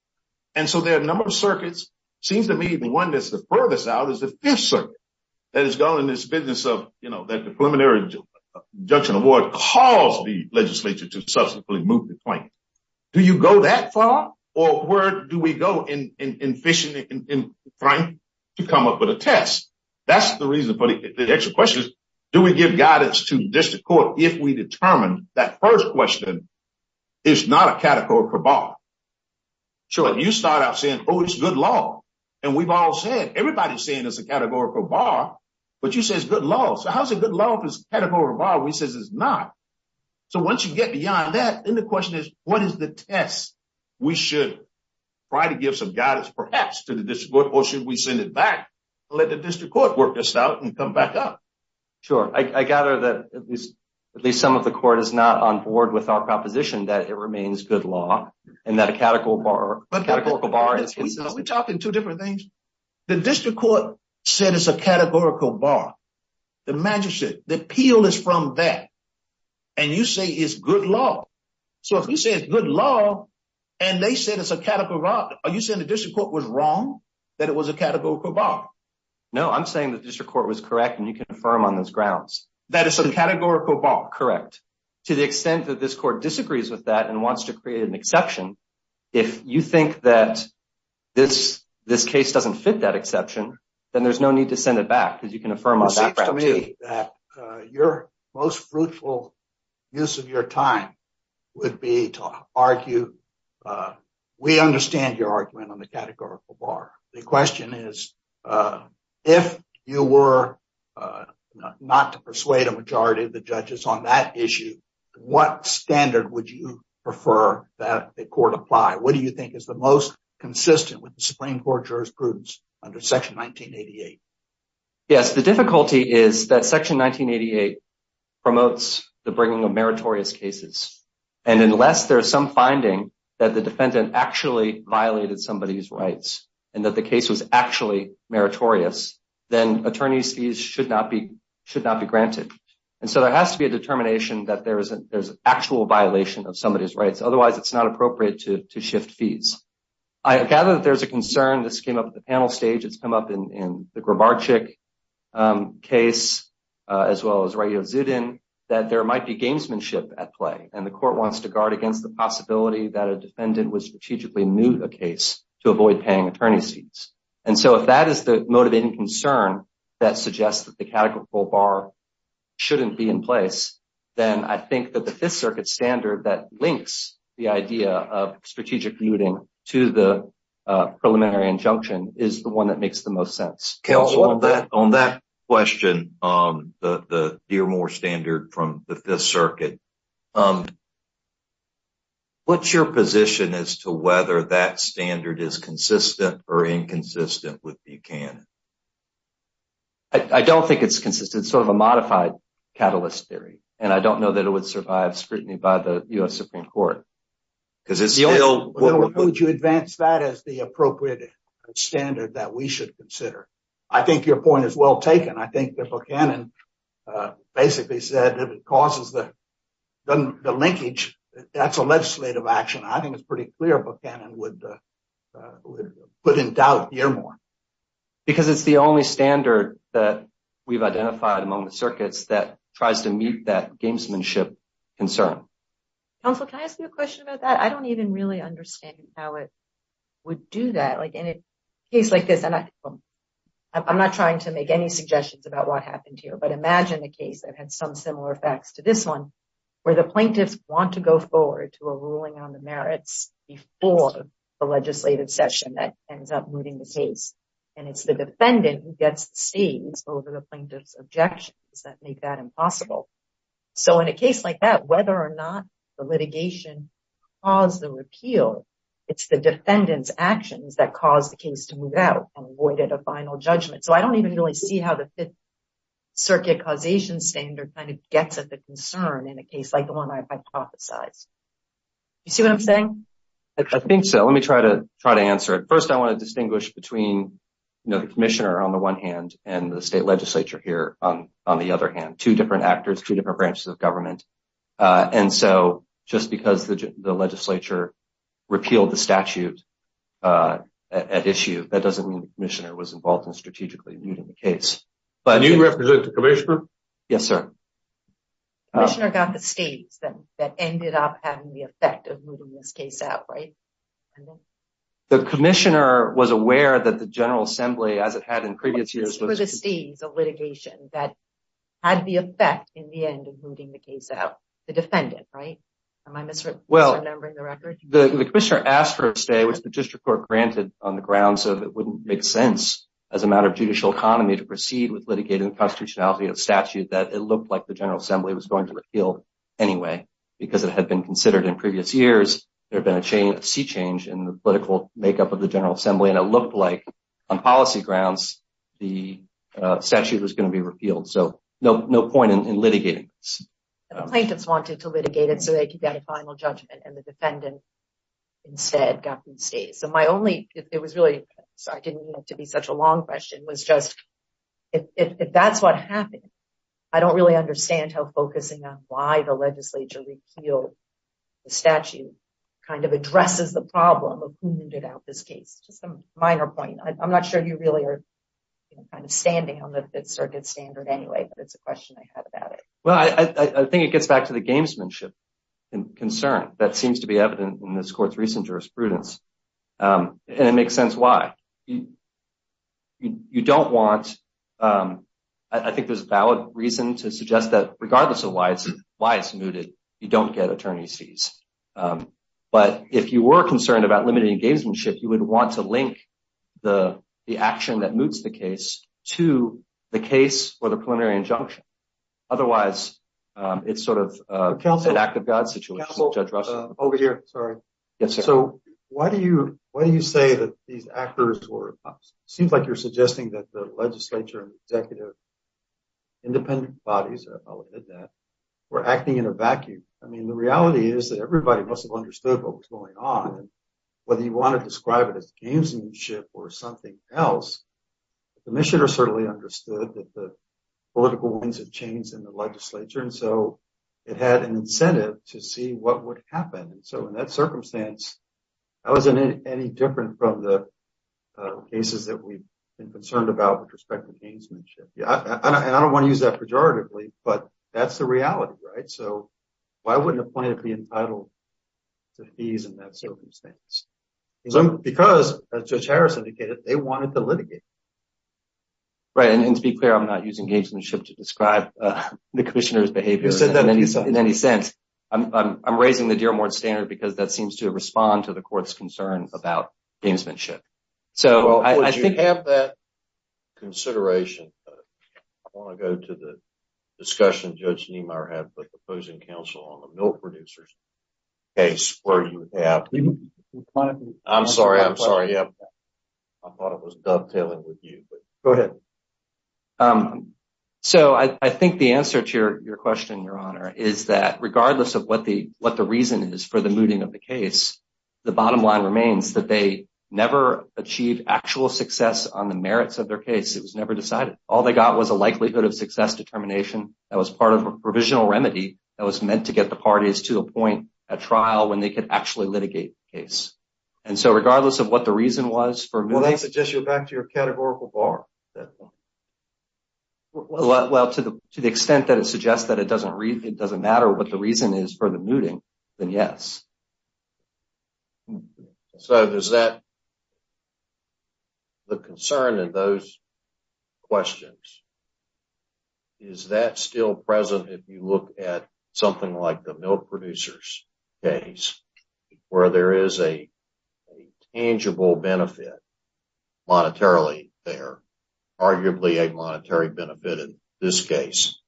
And so there are a number of circuits. It seems to me the one that's the furthest out is the Fifth Circuit that is going in this business of that the preliminary injunction award caused the legislature to subsequently move the claim. Do you go that far, or where do we go in fishing in crime to come up with a test? That's the reason for the extra questions. Do we give guidance to district court if we determine that first question is not a categorical bar? Sure. You start out saying, oh, it's good law. And we've all said, everybody's saying it's a categorical bar. But you say it's good law. So how's it good law if it's a categorical bar? We say it's not. So once you get beyond that, then the question is, what is the test? We should try to give some guidance, perhaps, to the district court, or should we send it back to let the district court work this out and come back up? Sure. I gather that at least some of the court is not on board with our proposition that it remains good law and that a categorical bar is good law. Are we talking two different things? The district court said it's a categorical bar. The magistrate, the appeal is from that. And you say it's good law. So if we say it's good law, and they said it's a categorical bar, are you saying the district court was wrong that it was a categorical bar? No, I'm saying the district court was correct, and you can affirm on those grounds. That it's a categorical bar. Correct. To the extent that this court disagrees with that and wants to create an exception, if you think that this case doesn't fit that exception, then there's no need to send it back, because you can affirm on that fact too. It seems to me that your most fruitful use of your time would be to argue. We understand your argument on the not to persuade a majority of the judges on that issue. What standard would you prefer that the court apply? What do you think is the most consistent with the Supreme Court jurisprudence under section 1988? Yes, the difficulty is that section 1988 promotes the bringing of meritorious cases. And unless there is some finding that the defendant actually violated somebody's rights, and that the case was actually meritorious, then attorney's fees should not be granted. And so there has to be a determination that there's an actual violation of somebody's rights. Otherwise, it's not appropriate to shift fees. I gather that there's a concern, this came up at the panel stage, it's come up in the Grabarczyk case, as well as Raya Zudin, that there might be gamesmanship at play, and the court wants to guard against the possibility that a defendant would strategically mute a case to avoid paying attorney's fees. And so if that is the motivating concern that suggests that the categorical bar shouldn't be in place, then I think that the Fifth Circuit standard that links the idea of strategic muting to the preliminary injunction is the one that makes the most sense. On that question, the Dearmore standard from the Fifth Circuit, what's your position as to whether that standard is consistent or inconsistent with Buchanan? I don't think it's consistent. It's sort of a modified catalyst theory, and I don't know that it would survive scrutiny by the U.S. Supreme Court, because it's still- The only way to advance that is the appropriate standard that we should consider. I think your the linkage, that's a legislative action. I think it's pretty clear what Buchanan would put in doubt Dearmore. Because it's the only standard that we've identified among the circuits that tries to mute that gamesmanship concern. Counsel, can I ask you a question about that? I don't even really understand how it would do that. Like in a case like this, and I'm not trying to make any suggestions about what happened here, but imagine a case that had some similar effects to this one, where the plaintiffs want to go forward to a ruling on the merits before the legislative session that ends up moving the case. And it's the defendant who gets to stay over the plaintiff's objections that make that impossible. So in a case like that, whether or not the litigation caused the repeal, it's the defendant's actions that caused the case to move out and avoid it a final judgment. So I don't even really see how the Fifth Circuit causation standard kind of gets a concern in a case like the one I hypothesized. You see what I'm saying? I think so. Let me try to try to answer it. First, I want to distinguish between the commissioner on the one hand, and the state legislature here on the other hand. Two different actors, two different branches of government. And so just because the legislature repealed the statute at issue, that doesn't mean the commissioner was involved in strategically leading the case. Do you represent the commissioner? Yes, sir. The commissioner got the state that ended up having the effect of moving this case out, right? The commissioner was aware that the General Assembly, as it had in previous years, the litigation that had the effect in the end of moving the case out. The defendant, right? Well, the commissioner asked for a stay, which the district court granted on the ground so that it wouldn't make sense as a matter of judicial economy to proceed with litigating the statute that it looked like the General Assembly was going to repeal anyway, because it had been considered in previous years. There'd been a sea change in the political makeup of the General Assembly, and it looked like on policy grounds, the statute was going to be repealed. So no point in litigating. The plaintiffs wanted to litigate it so they could get a final judgment, and the defendant instead got the stay. So my only, it was really, sorry, it didn't have to be such a long question. It was just, if that's what happened, I don't really understand how focusing on why the legislature repealed the statute kind of addresses the problem of moving out this case. It's a minor point. I'm not sure you really are standing on the circuit standard anyway, but it's a question I had about it. Well, I think it gets back to the gamesmanship concern that seems to be evident in this court's recent jurisprudence, and it makes sense why. You don't want, I think there's a valid reason to suggest that regardless of why it's mooted, you don't get attorney's fees. But if you were concerned about limiting gamesmanship, you would want to link the action that moots the case to the case for the preliminary injunction. Otherwise, it's sort of an act of God situation. Counsel, over here, sorry. Yes, sir. So why do you say that these actors were, it seems like you're suggesting that the legislature and executive independent bodies were acting in a vacuum? I mean, the reality is that everybody must have understood what was going on. Whether you want to describe it as gamesmanship or something else, the commissioner certainly understood that the political winds had changed in the legislature, and so it had incentive to see what would happen. And so in that circumstance, that wasn't any different from the cases that we've been concerned about with respect to gamesmanship. And I don't want to use that pejoratively, but that's the reality, right? So why wouldn't a plaintiff be entitled to fees and that sort of things? Because as Judge Harris indicated, they wanted to litigate. Right. And to be clear, I'm not using gamesmanship to describe the commissioner's behavior in any sense. I'm raising the Dearborn stand because that seems to respond to the court's concern about gamesmanship. So I think- Well, you have that consideration. I want to go to the discussion Judge Niemeyer had with the opposing counsel on the milk producers case where you have I'm sorry. I'm sorry. I thought it was dovetailing with you. Go ahead. So I think the answer to your question, Your Honor, is that regardless of what the reason is for the mooting of the case, the bottom line remains that they never achieved actual success on the merits of their case. It was never decided. All they got was a likelihood of success determination that was part of a provisional remedy that was meant to get the parties to litigate the case. And so regardless of what the reason was for mooting- Well, I suggest you go back to your categorical bar. Well, to the extent that it suggests that it doesn't matter what the reason is for the mooting, then yes. So is that the concern in those questions? Is that still present if you look at something like the milk producers case where there is a tangible benefit monetarily there, arguably a monetary benefit in this case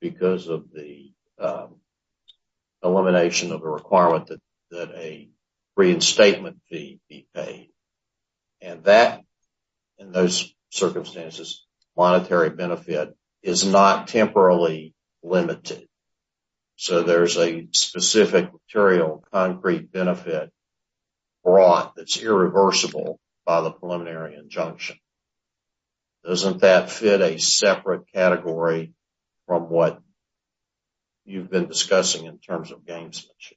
because of the elimination of a requirement that a reinstatement fee be paid. And that, in those circumstances, monetary benefit is not temporarily limited. So there's a specific material concrete benefit brought that's irreversible by the preliminary injunction. Doesn't that fit a separate category from what you've been discussing in terms of gamesmanship,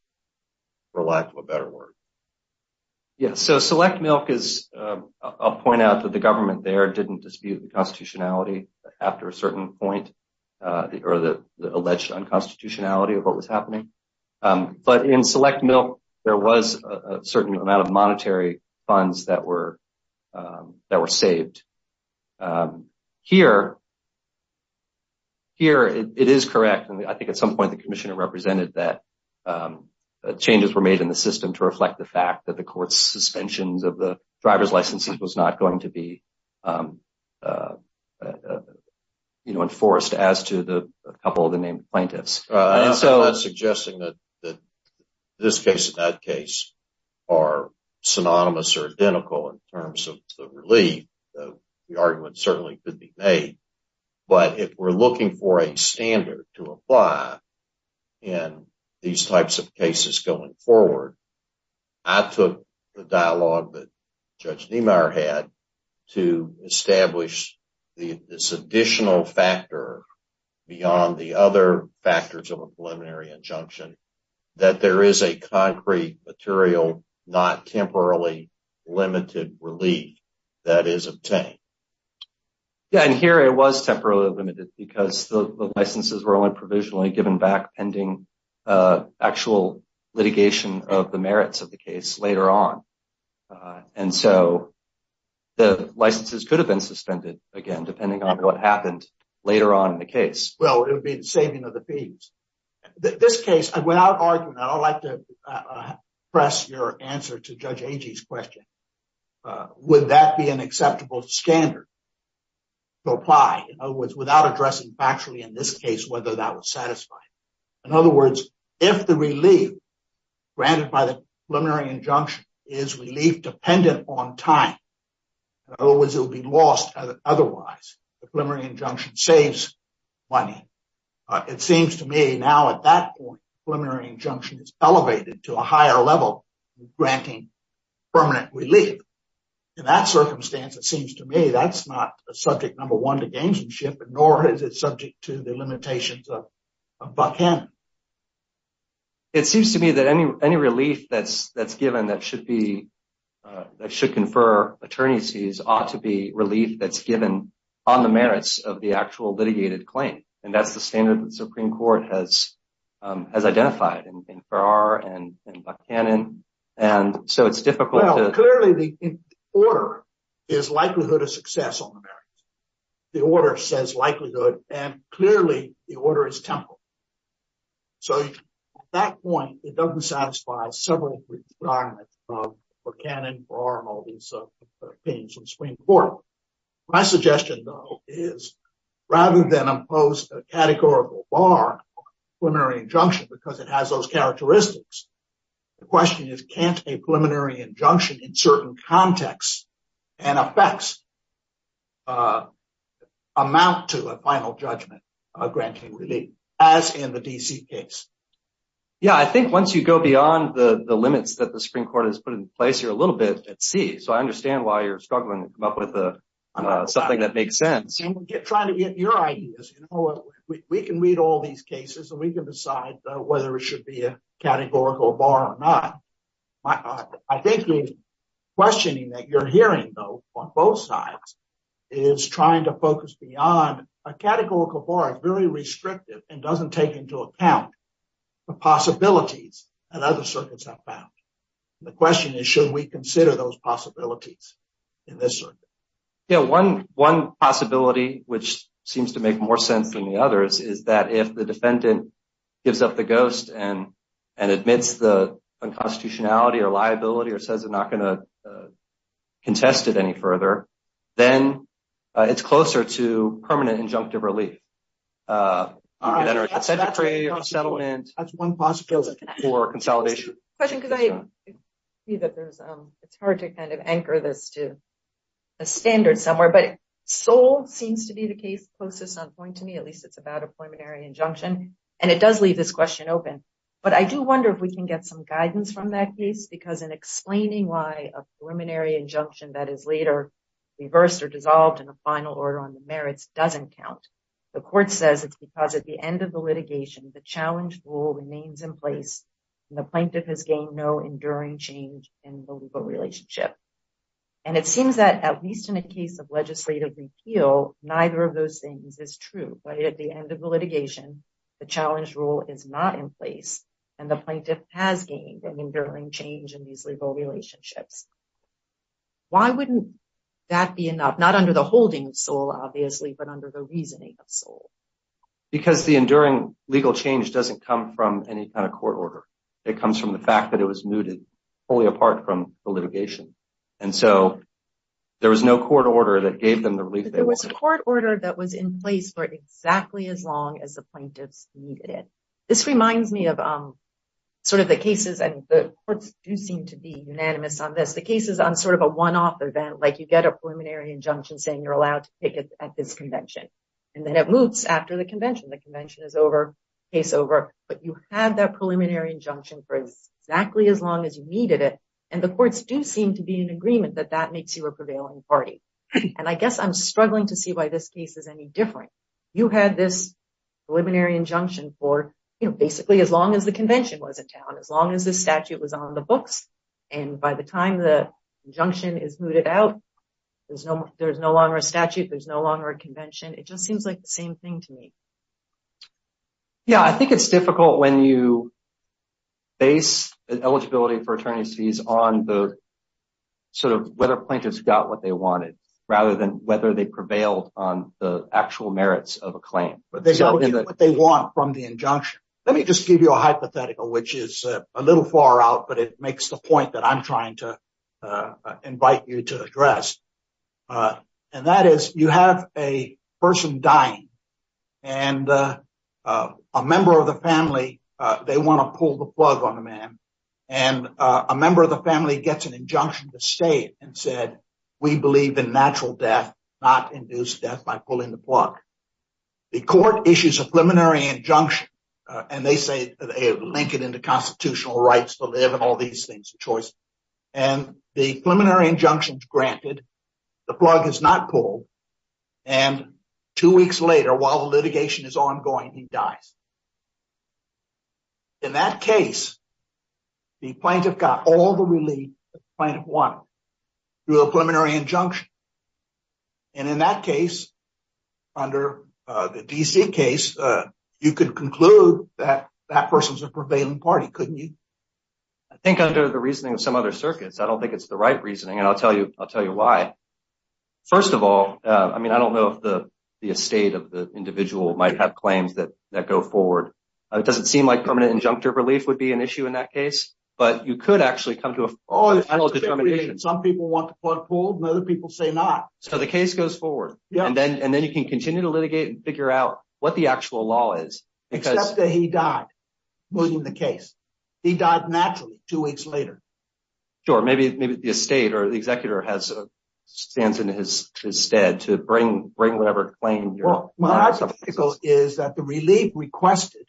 for lack of a better word? Yeah. So select milk is- I'll point out that the government there didn't dispute the constitutionality after a certain point, or the alleged unconstitutionality of what was happening. But in select milk, there was a certain amount of monetary funds that were saved. Here, it is correct. I think at some point the commissioner represented that changes were made in the system to reflect the court's suspension that the driver's license was not going to be enforced as to a couple of the named plaintiffs. I'm not suggesting that this case and that case are synonymous or identical in terms of the relief. The argument certainly could be made. But if we're looking for a standard to apply in these types of cases going forward, I took the dialogue that Judge Niemeyer had to establish this additional factor beyond the other factors of a preliminary injunction, that there is a concrete, material, not temporarily limited relief that is obtained. Yeah, and here it was temporarily limited because the licenses were only provisionally given back pending actual litigation of the merits of the case later on. And so the licenses could have been suspended, again, depending on what happened later on in the case. Well, it would be the saving of the fees. This case, without argument, I'd like to press your answer to Judge Agee's question. Would that be an acceptable standard to apply, in other words, without addressing factually in this case whether that was satisfying? In other words, if the relief granted by the preliminary injunction is relief dependent on time, in other words, it would be lost otherwise. The preliminary injunction saves money. It seems to me now at that point, preliminary injunction is elevated to a relief. In that circumstance, it seems to me, that's not the subject number one to dangership, nor is it subject to the limitations of Buck Cannon. It seems to me that any relief that's given that should confer attorneys' fees ought to be relief that's given on the merits of the actual litigated claim. And that's the standard the Supreme Court has identified in the case. Clearly, the order is likelihood of success on the merits. The order says likelihood, and clearly, the order is temporal. So at that point, it doesn't satisfy several requirements of Buck Cannon, Barr, and all these things from the Supreme Court. My suggestion, though, is rather than impose a categorical bar on a preliminary injunction because it has those contexts and affects amount to a final judgment of granting relief, as in the D.C. case. Yeah, I think once you go beyond the limits that the Supreme Court has put in place here a little bit, it's easy. So I understand why you're struggling to come up with something that makes sense. I'm trying to get your ideas. We can read all these cases, and we can decide whether it should be a categorical bar or not. I think the questioning that you're hearing, though, on both sides is trying to focus beyond a categorical bar, very restrictive, and doesn't take into account the possibilities that other circuits have found. The question is, should we consider those possibilities in this circuit? Yeah, one possibility, which seems to and admits the unconstitutionality or liability or says they're not going to contest it any further, then it's closer to permanent injunctive relief. That's one possibility. That's one possibility for consolidation. It's hard to kind of anchor this to a standard somewhere, but Seoul seems to be the case closest on point to me, at least it's about a preliminary injunction. And it does leave this question open. But I do wonder if we can get some guidance from that case, because in explaining why a preliminary injunction that is later reversed or dissolved in a final order on the merits doesn't count, the court says it's because at the end of the litigation, the challenge rule remains in place, and the plaintiff has gained no enduring change in the legal relationship. And it seems that at least in a case of legislative repeal, neither of those is true. But at the end of the litigation, the challenge rule is not in place, and the plaintiff has gained an enduring change in the legal relationship. Why wouldn't that be enough, not under the holding of Seoul, obviously, but under the reasoning of Seoul? Because the enduring legal change doesn't come from any kind of court order. It comes from the fact that it was mooted fully apart from the litigation. And so there was no court order that was in place for exactly as long as the plaintiff needed it. This reminds me of sort of the cases, and the courts do seem to be unanimous on this. The cases on sort of a one-off event, like you get a preliminary injunction saying you're allowed to take it at this convention, and then it moves after the convention. The convention is over, case over. But you had that preliminary injunction for exactly as long as you needed it. And the courts do seem to be in agreement that that makes you a prevailing party. And I guess I'm struggling to see why this case is any different. You had this preliminary injunction for basically as long as the convention was in town, as long as the statute was on the books. And by the time the injunction is mooted out, there's no longer a statute, there's no longer a convention. It just seems like the same thing to me. Yeah, I think it's difficult when you base the eligibility for attorneys fees on the whether plaintiffs got what they wanted, rather than whether they prevailed on the actual merits of a claim. But they don't get what they want from the injunction. Let me just give you a hypothetical, which is a little far out, but it makes the point that I'm trying to invite you to address. And that is, you have a person dying, and a member of the family, they want to pull the state and said, we believe in natural death, not induced death by pulling the plug. The court issues a preliminary injunction, and they say they link it into constitutional rights, so they have all these things of choice. And the preliminary injunction is granted, the plug is not pulled. And two weeks later, while the litigation is ongoing, he dies. In that case, the plaintiff got all the relief the plaintiff wanted through a preliminary injunction. And in that case, under the DC case, you could conclude that that person's a prevailing party, couldn't you? I think under the reasoning of some other circuits, I don't think it's the right reasoning, and I'll tell you why. First of all, I mean, I don't know if the estate of the doesn't seem like permanent injunctive relief would be an issue in that case, but you could actually come to a full determination. Some people want the plug pulled, and other people say not. So the case goes forward, and then you can continue to litigate and figure out what the actual law is. Except that he died. He died naturally two weeks later. Sure, maybe the estate or the executor has a stance in his stead to bring whatever claim. Well, that's a pickle, is that the relief requested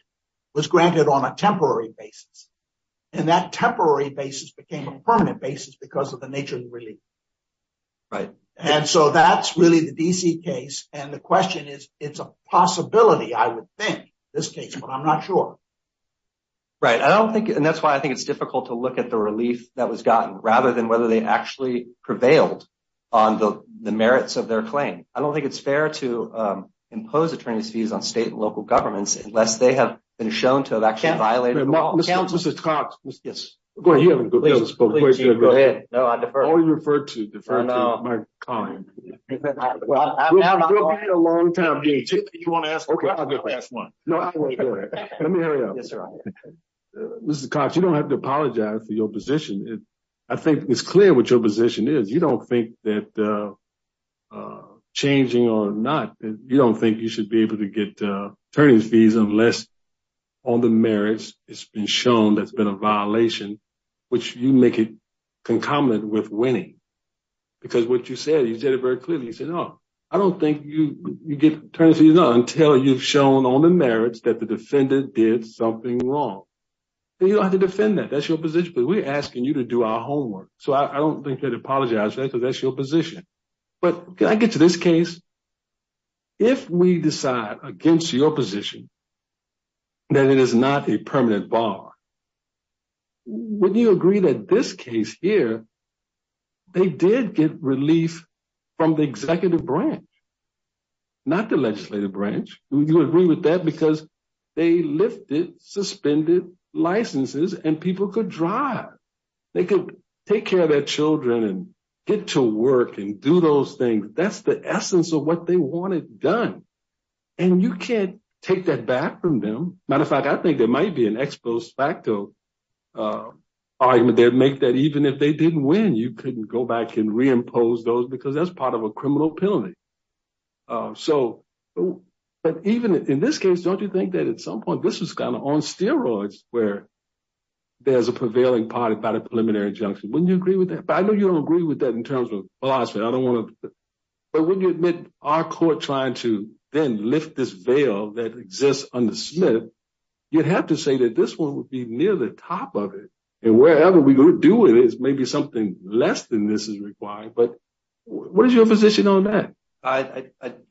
was granted on a temporary basis. And that temporary basis became a permanent basis because of the nature of the relief. And so that's really the DC case. And the question is, it's a possibility, I would think, this case, but I'm not sure. Right. I don't think, and that's why I think it's difficult to look at the relief that was gotten, rather than whether they actually prevailed on the merits of their claim. I don't think it's fair to impose attorneys fees on state and local governments, unless they have been shown to that can't violate the law. Mr. Cox. Yes. Go ahead. No, I defer. Always referred to deferred to my kind. Mr. Cox, you don't have to apologize for your position. I think it's clear what your position is. You don't think that changing or not, you don't think you should be able to get attorney's fees unless on the merits, it's been shown that's been a violation, which you make it concomitant with winning. Because what you said, you said it very clearly. You said, no, I don't think you get attorney's fees until you've shown on the merits that the defendant did something wrong. You don't have to defend that. That's your position, but we're that's your position. But can I get to this case? If we decide against your position, that it is not a permanent bar, would you agree that this case here, they did get relief from the executive branch, not the legislative branch. Would you agree with that? Because they lifted suspended licenses and people could drive. They could take care of their get to work and do those things. That's the essence of what they wanted done. And you can't take that back from them. Matter of fact, I think there might be an ex post facto argument there to make that even if they didn't win, you couldn't go back and reimpose those because that's part of a criminal penalty. So, but even in this case, don't you think that at some point this is kind of on steroids where there's a prevailing part about a preliminary injunction? Wouldn't you agree with that? I know you don't agree with that in terms of, oh, I said, I don't want to, but wouldn't you admit our court trying to then lift this veil that exists under Smith, you'd have to say that this one would be near the top of it. And wherever we would do it is maybe something less than this is required. But what is your position on that? I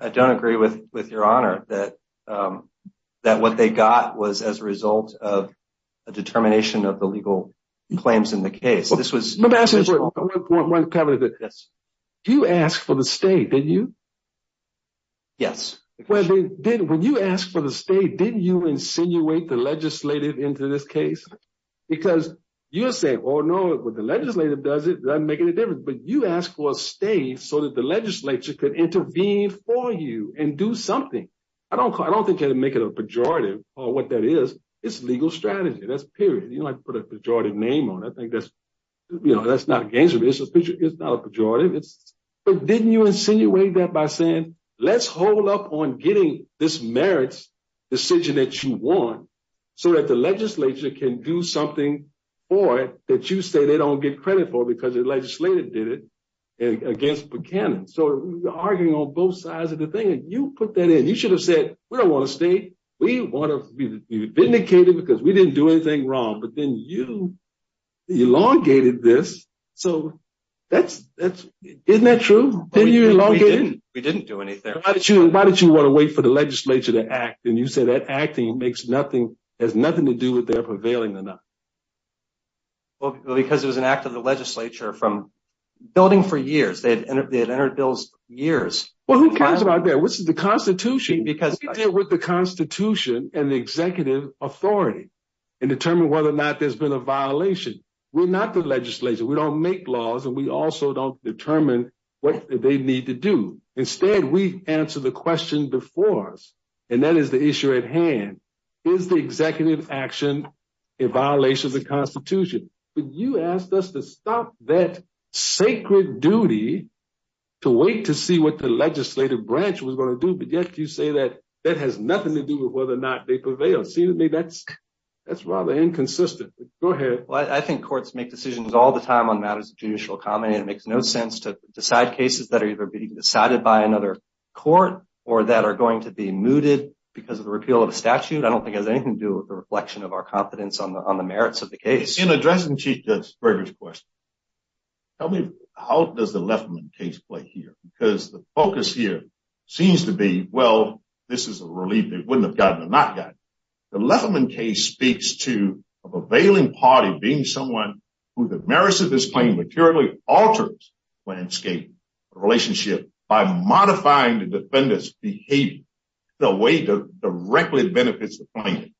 don't agree with, with your honor that, um, that what they got was as a result of a determination of the legal claims in the case. You asked for the state, did you? Yes. When you asked for the state, didn't you insinuate the legislative into this case? Because you're saying, oh no, it was the legislative does it make any difference, but you asked for a state so that the legislature could intervene for you and do something. I don't, I don't think they didn't make it a pejorative or what that is. It's legal strategy. That's period. You don't have to put a pejorative name on it. I think that's, you know, that's not gangster business, but it's not a pejorative. But didn't you insinuate that by saying, let's hold up on getting this merits decision that you want so that the legislature can do something for it that you say they don't get credit for because the legislative did it against Buchanan. So we're arguing on both sides of the thing. And you put that in, you should have said, we don't want to stay. We want to be vindicated because we didn't do anything wrong, but then you elongated this. So that's, that's, isn't that true? We didn't do anything. Why did you want to wait for the legislature to act? And you said that acting makes nothing, has nothing to do with their prevailing enough. Well, because it was an act of the legislature from building for years, they had entered bills for years. Well, who cares about that? What's the constitution? Because we deal with the constitution and the executive authority and determine whether or not there's been a violation. We're not the legislature. We don't make laws and we also don't determine what they need to do. Instead, we answer the question before us. And that is the issue at hand. Is the executive action a violation of the constitution? But you asked us to stop that sacred duty to wait, to see what the legislative branch was going to do. But yet you say that that has nothing to do with whether or not they prevail. To me, that's, that's rather inconsistent. Go ahead. I think courts make decisions all the time on matters of judicial common. And it makes no sense to decide cases that are either being decided by another court or that are going to be mooted because of the repeal of the statute. I don't think it has anything to do with the reflection of our confidence on the, on the merits of the case. In addressing Chief Judge Berger's question, tell me how does the Lefferman case play here? Because the focus here seems to be, well, this is a relief they wouldn't have gotten and not gotten. The Lefferman case speaks to a prevailing party being someone who the merits of this claim materially alters the landscape, the relationship by modifying the defendant's behavior in a way that directly benefits the plaintiff.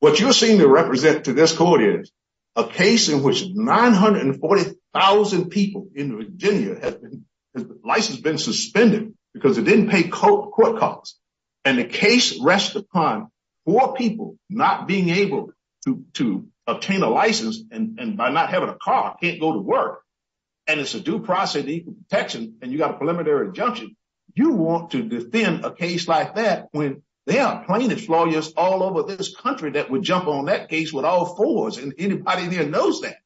What you're saying to represent to this court is a case in which 940,000 people in Virginia had their license been suspended because they didn't pay court costs. And the case rests upon four people not being able to obtain a license and by not having a car, can't go to work. And it's a due process of equal protection and you got a preliminary injunction. You want to defend a case like that when there are plaintiff lawyers all over this country that would jump on that case with all fours and anybody here knows that.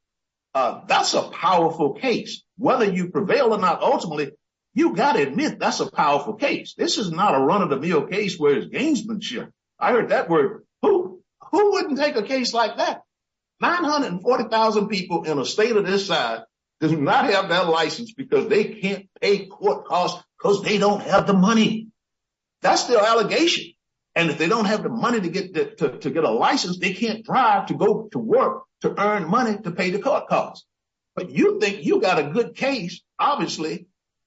That's a powerful case. Whether you prevail or not, ultimately, you got to admit that's a powerful case. This is not a run-of-the-mill case where it's gamesmanship. I heard that word. Who wouldn't take a case like that? 940,000 people in a state of this size do not have that license because they can't pay court costs because they don't have the money. That's their allegation. And if they don't have the money to get a license, they can't drive to go to work to earn money to pay the court costs. But you think you got a good case, obviously,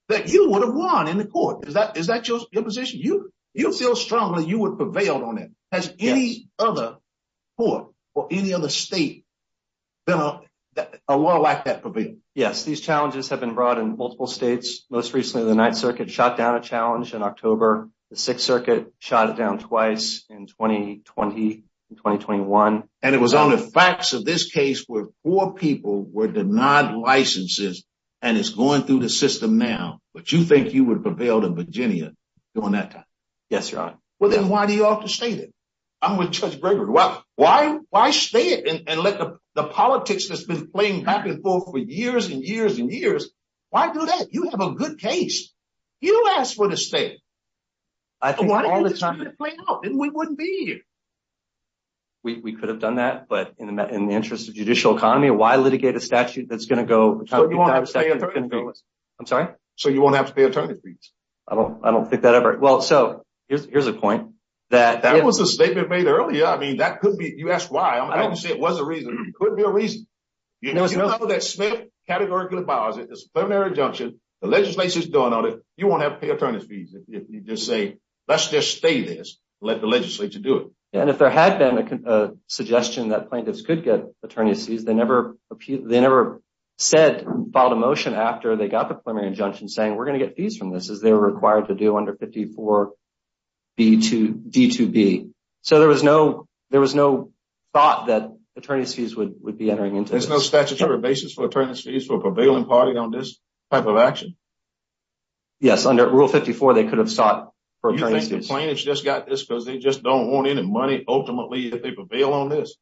that you would have won in the court. Is that your position? You feel strongly you would prevail on it. Has any other court or any other state been a lot like that? Yes. These challenges have been brought in multiple states. Most recently, the 9th Circuit shot down a challenge in October. The 6th Circuit shot it down twice in 2020 and 2021. And it was on the facts of this case where four people were denied licenses and it's going through the system now. But you think you would prevail in Virginia during that time? Yes, Your Honor. Well, then why do you have to stay there? I'm with Judge Graber. Why stay and let the politics that's been playing back and forth for years and years and years, why do that? You have a good case. You asked for the state. I think all the time, we wouldn't be here. We could have done that, but in the interest of so you won't have to pay attorney fees. I don't think that ever. Well, so here's a point that that was the statement made earlier. I mean, that could be you asked why it was a reason. It could be a reason. You know, that state categorically abolished it. It's a plenary injunction. The legislation is done on it. You won't have to pay attorney fees if you just say let's just stay there. Let the legislature do it. And if there had been a suggestion that plaintiffs could get attorney fees, they never said, filed a motion after they got the plenary injunction saying we're going to get fees from this as they were required to do under 54B2B. So there was no thought that attorney fees would be entering into. There's no statutory basis for attorney fees for a prevailing party on this type of action. Yes, under Rule 54, they could have sought for attorney fees. Plaintiffs just got this because they just don't want any money ultimately that they prevail on this.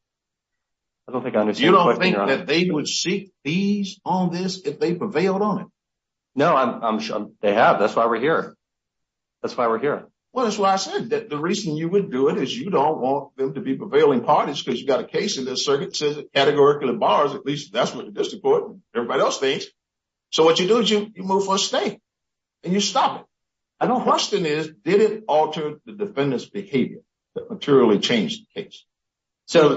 You don't think that they would seek fees on this if they prevailed on it? No, I'm sure they have. That's why we're here. That's why we're here. Well, that's why I said that the reason you would do it is you don't want them to be prevailing parties because you've got a case in this circuit that says it's categorically abolished. At least that's what the district court and everybody else thinks. So what you do is you move for a stay and you stop it. I know the question is did it alter the defendant's behavior that materially changed the case? So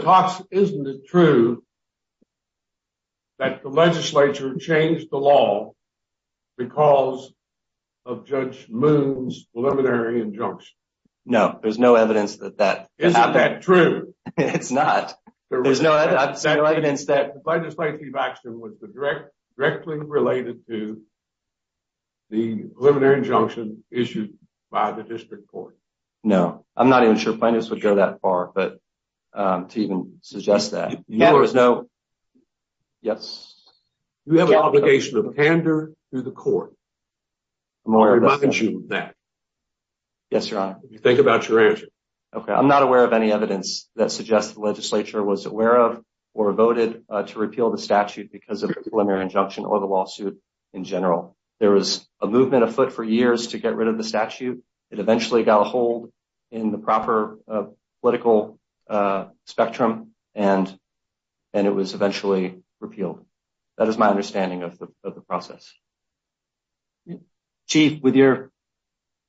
isn't it true that the legislature changed the law because of Judge Moon's preliminary injunction? No, there's no evidence that that is true. It's not. There was no evidence that the district court. No, I'm not even sure plaintiffs would go that far but to even suggest that. Yes, you have an obligation to pander to the court. Yes, your honor. Think about your answer. Okay, I'm not aware of any evidence that suggests the legislature was aware of or voted to repeal the statute because of preliminary injunction or the lawsuit in general. There was a movement afoot for years to get rid of the statute. It eventually got a hold in the proper political spectrum and it was eventually repealed. That is my understanding of the process. Chief, with your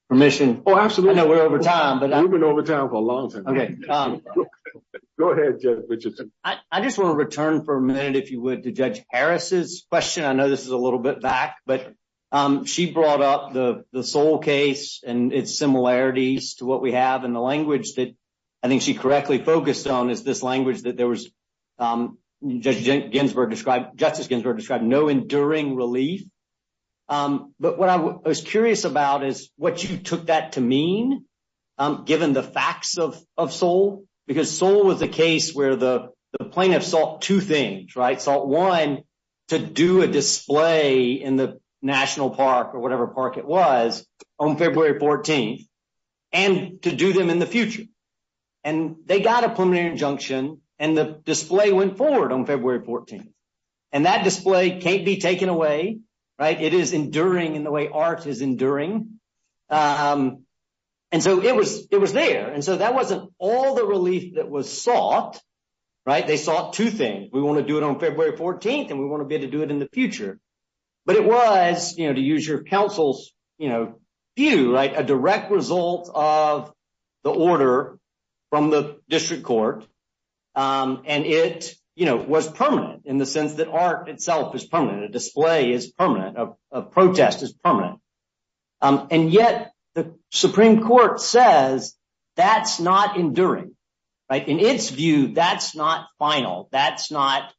permission. Oh, absolutely. I know we're over time. We've been over time for a long time. Go ahead, Judge Richardson. I just want to return for a minute, if you would, to Judge Harris's question. I know this is a little bit back, but she brought up the Seoul case and its similarities to what we have in the language that I think she correctly focused on is this language that there was, as Justice Ginsburg described, no enduring relief. But what I was curious about is what you took that to mean, given the facts of Seoul, because Seoul was the case where the Supreme Court decided to do a display in the national park or whatever park it was on February 14th and to do them in the future. They got a preliminary injunction and the display went forward on February 14th. That display can't be taken away. It is enduring in the way arts is enduring. It was there, and so that wasn't all the relief that was sought. They sought two things. We want to do it on February 14th, and we want to be able to do it in the future, but it was, to use your counsel's view, a direct result of the order from the district court, and it was permanent in the sense that art itself is permanent. A display is permanent. A protest is permanent, and yet the Supreme Court says that's not enduring. In its view, that's not final. That's not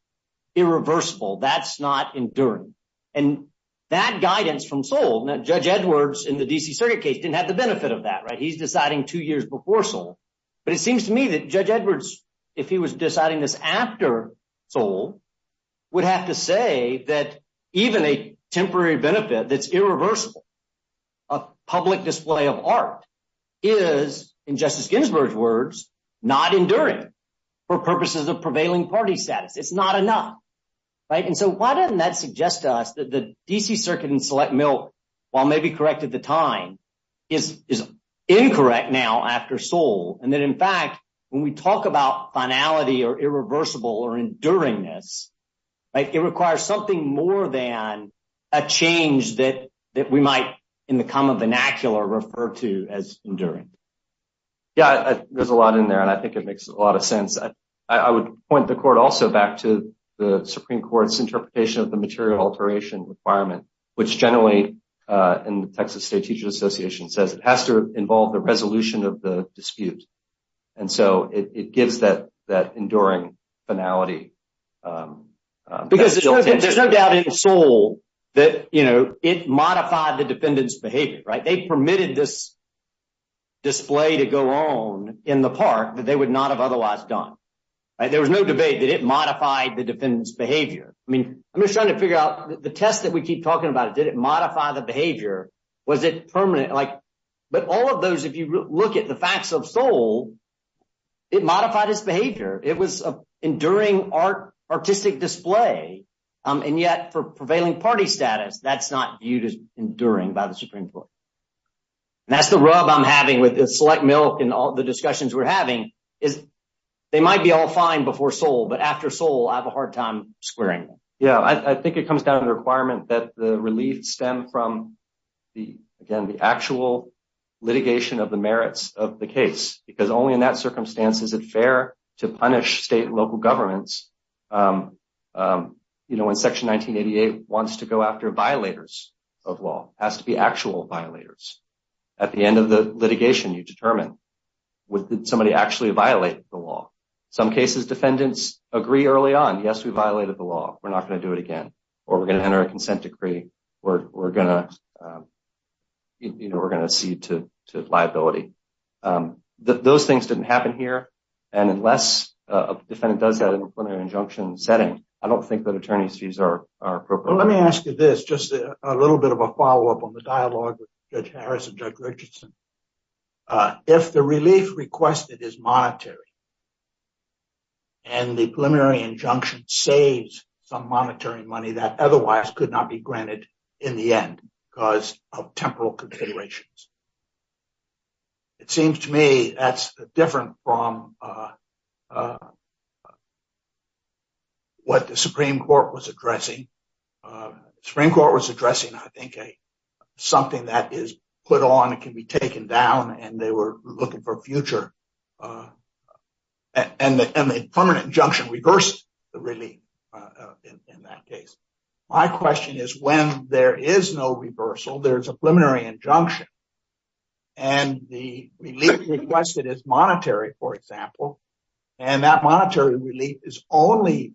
irreversible. That's not enduring, and that guidance from Seoul, and Judge Edwards in the D.C. Circuit case didn't have the benefit of that. He's deciding two years before Seoul, but it seems to me that Judge Edwards, if he was deciding this after Seoul, would have to say that even a temporary benefit that's irreversible, a public display of not enduring for purposes of prevailing party status. It's not enough, and so why doesn't that suggest to us that the D.C. Circuit in Select Mill, while maybe correct at the time, is incorrect now after Seoul, and that, in fact, when we talk about finality or irreversible or enduringness, it requires something more than a change that we might, in the common vernacular, refer to as a dispute. I would point the court also back to the Supreme Court's interpretation of the material alteration requirement, which generally, in the Texas State Teacher's Association, says it has to involve the resolution of the dispute, and so it gives that enduring finality. There's no doubt in Seoul that it modified the defendant's behavior. They permitted this display to go on in the park, but they would not have otherwise done. There was no debate, did it modify the defendant's behavior? I mean, I'm just trying to figure out, the test that we keep talking about, did it modify the behavior? Was this permanent? But all of those, if you look at the facts of Seoul, it modified its behavior. It was an enduring artistic display, and yet for prevailing party status, that's not viewed as enduring by the select milk in all the discussions we're having. They might be all fine before Seoul, but after Seoul, I have a hard time squaring them. Yeah, I think it comes down to the requirement that the relief stem from, again, the actual litigation of the merits of the case, because only in that circumstance is it fair to punish state and local governments. When Section 1988 wants to go after violators of law, it has to be actual violators. At the end of the litigation, you determine, did somebody actually violate the law? In some cases, defendants agree early on, yes, we violated the law. We're not going to do it again, or we're going to enter a consent decree. We're going to see to liability. Those things didn't happen here, and unless a defendant does that in a preliminary injunction setting, I don't think that attorneys' fees are appropriate. Let me ask you this, just a little bit of a follow-up on the dialogue with Judge Richardson. If the relief requested is monetary, and the preliminary injunction saves some monetary money that otherwise could not be granted in the end because of temporal configurations, it seems to me that's different from what the Supreme Court was addressing. The Supreme Court was addressing, I think, something that is put on and can be taken down, and they were looking for future. The preliminary injunction reversed the relief in that case. My question is, when there is no reversal, there's a preliminary injunction, and the relief requested is monetary, for example, and that monetary relief is only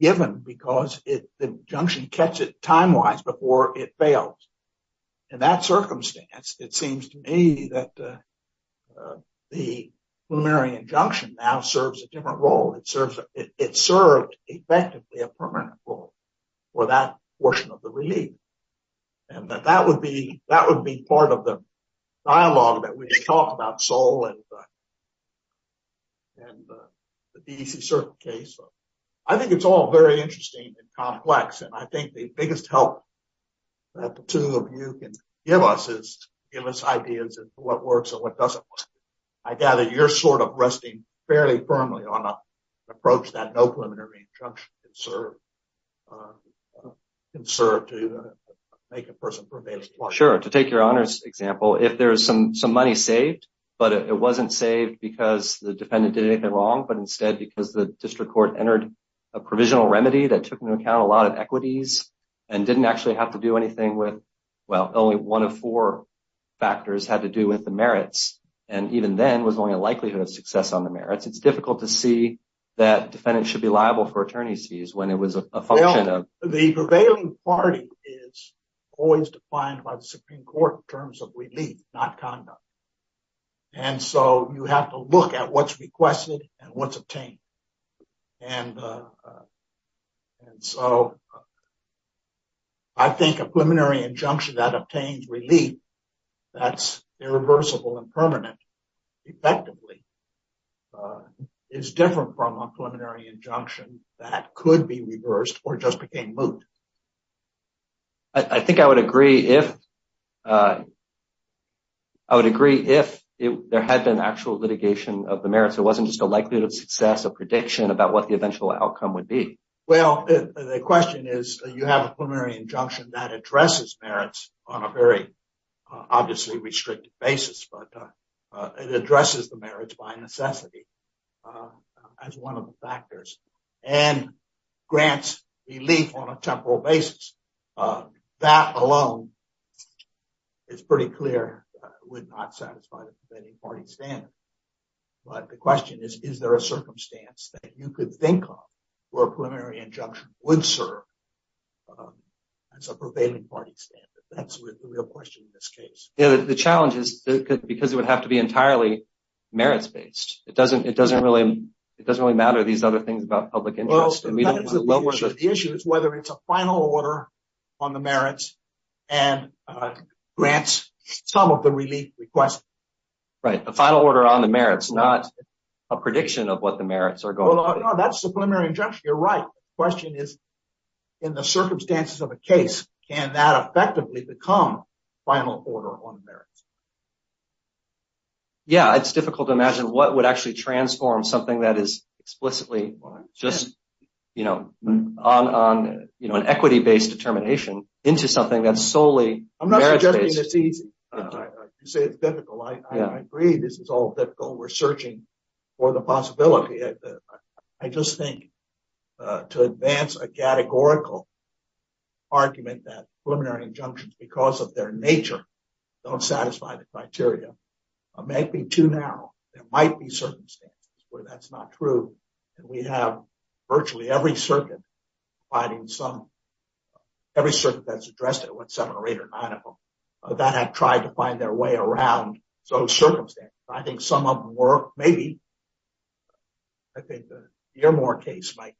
given because the injunction cuts it timewise before it fails. In that circumstance, it seems to me that the preliminary injunction now serves a different role. It served effectively a permanent role for that portion of the relief, and that would be part of the dialogue that we talked about in the DC Circuit case. I think it's all very interesting and complex, and I think the biggest help that the two of you can give us is to give us ideas of what works and what doesn't work. I gather you're sort of resting fairly firmly on an approach that no preliminary injunction can serve to make a person permissible. Well, sure. To take your honest example, if there's some money saved, but it wasn't saved because the defendant did anything wrong, but instead because the district court entered a provisional remedy that took into account a lot of equities and didn't actually have to do anything with, well, only one of four factors had to do with the merits, and even then was only a likelihood of success on the merits. It's difficult to see that defendants should be liable for attorney's fees when it was a function of- The prevailing party is always defined by the and so you have to look at what's requested and what's obtained, and so I think a preliminary injunction that obtains relief that's irreversible and permanent effectively is different from a preliminary injunction that could be reversed or just became I think I would agree if there had been actual litigation of the merits, it wasn't just a likelihood of success, a prediction about what the eventual outcome would be. Well, the question is, you have a preliminary injunction that addresses merits on a very obviously restricted basis, but it addresses the merits by necessity as one of the factors and grants relief on a temporal basis. That alone is pretty clear, would not satisfy the prevailing party standard, but the question is, is there a circumstance that you could think of where a preliminary injunction would serve as a prevailing party standard? That's the real question in this case. The challenge is because it would have to be entirely merits-based. It doesn't really matter these other things about public interest. Well, the issue is whether it's a final order on the merits and grants some of the relief requests. Right. The final order on the merits, not a prediction of what the merits are going to be. That's a preliminary injunction. You're right. The question is, in the circumstances of a case, can that effectively become final order on the merits? Yeah. It's difficult to imagine what would actually transform something that is explicitly just an equity-based determination into something that's solely merits-based. I'm not suggesting it's easy. You say it's difficult. I agree this is all difficult. We're searching for the possibility. I just think to advance a categorical argument that preliminary injunctions, because of their nature, don't satisfy the criteria, might be too narrow. There might be circumstances where that's not true. We have virtually every circuit that's addressed at what seven or eight or nine of them that have tried to find their way around those circumstances. I think some of them were, maybe, I think the Yermore case might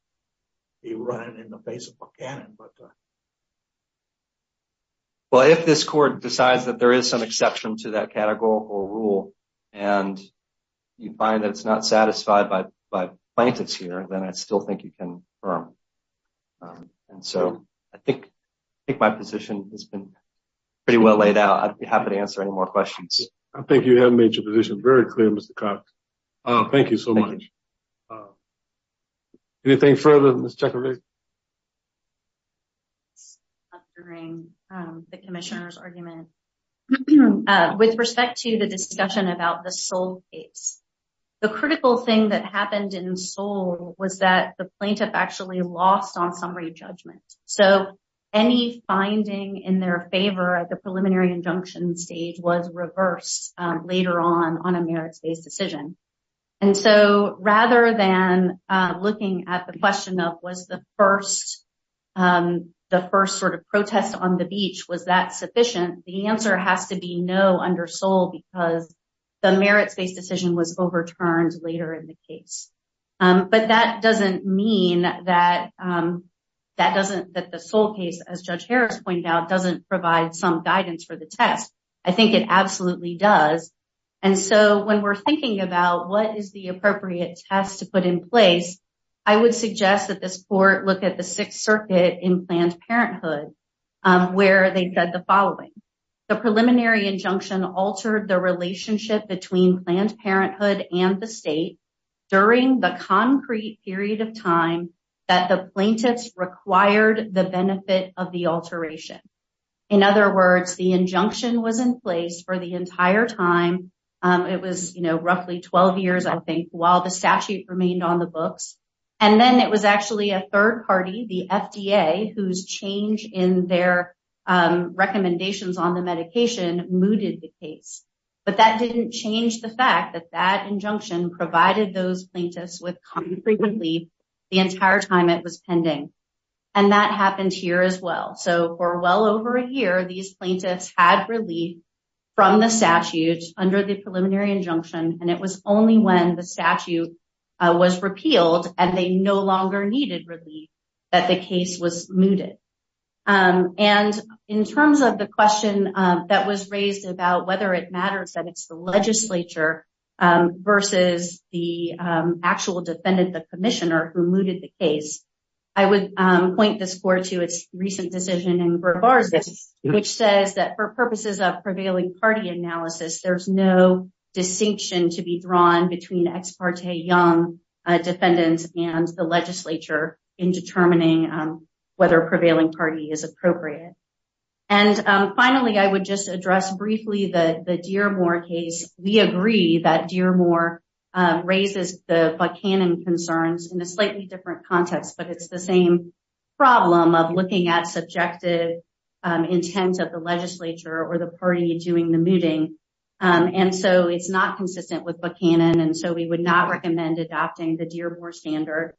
be running in the face of Buchanan. Well, if this court decides that there is some exception to that categorical rule and you find that it's not satisfied by Plankett's here, then I still think you can confirm. I think my position has been pretty well laid out. I'd be happy to answer any more questions. I think you have made your position very clear, Mr. Cox. Thank you so much. Anything further, Ms. Teper-Rae? After hearing the commissioner's argument, with respect to the discussion about the Seoul case, the critical thing that happened in Seoul was that the plaintiff actually lost on summary judgment. So, any finding in their favor at the preliminary injunction stage was reversed later on on a merit-based decision. And so, rather than looking at the question of, was the first sort of protest on the beach, was that sufficient? The answer has to be no under Seoul because the merit-based decision was overturned later in the case. But that doesn't mean that the Seoul case, as Judge Harris pointed out, doesn't provide some guidance for the test. I think it absolutely does. And so, when we're thinking about what is the appropriate test to put in place, I would suggest that this court look at the Sixth Circuit in Planned Parenthood, where they said the following. The preliminary injunction altered the relationship between Planned Parenthood and the state during the concrete period of time that the plaintiffs required the benefit of the alteration. In other words, the injunction was in place for the entire time. It was roughly 12 years, I think, while the statute remained on the books. And then, it was actually a third party, the FDA, whose change in their recommendations on the medication mooted the case. But that didn't change the fact that that injunction provided those plaintiffs with concrete relief the entire time it was pending. And that happened here as well. So, for well over a year, these plaintiffs had relief from the statutes under the preliminary injunction, and it was only when the statute was repealed and they no longer needed relief that the case was mooted. And in terms of the question that was raised about whether it matters that it's the legislature versus the actual defendant, the commissioner, who mooted the case, I would point this court to a recent decision in Burghardt, which says that for purposes of prevailing party analysis, there's no distinction to be drawn between ex parte young defendants and the legislature in determining whether prevailing party is appropriate. And finally, I would just address briefly the Dearmore case. We agree that Dearmore raises the Buchanan concerns in a slightly different context, but it's the same problem of looking at subjective intents of the legislature or the party during the meeting. And so, it's not consistent with Buchanan, and so we would not recommend adopting the Dearmore standard,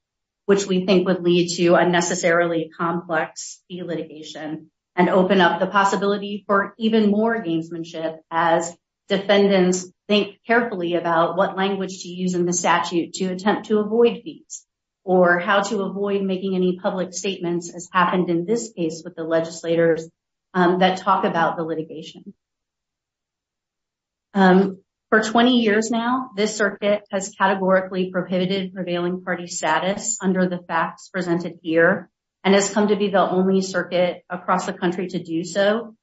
which we think would lead to unnecessarily complex litigation, and open up the possibility for even more gamesmanship as defendants think carefully about what language to use in the statute to attempt to avoid these, or how to avoid making any public statements, as happened in this case with the legislators that talk about the litigation. For 20 years now, this circuit has categorically prohibited prevailing party status under the facts presented here, and has come to be the only circuit across the country to do so.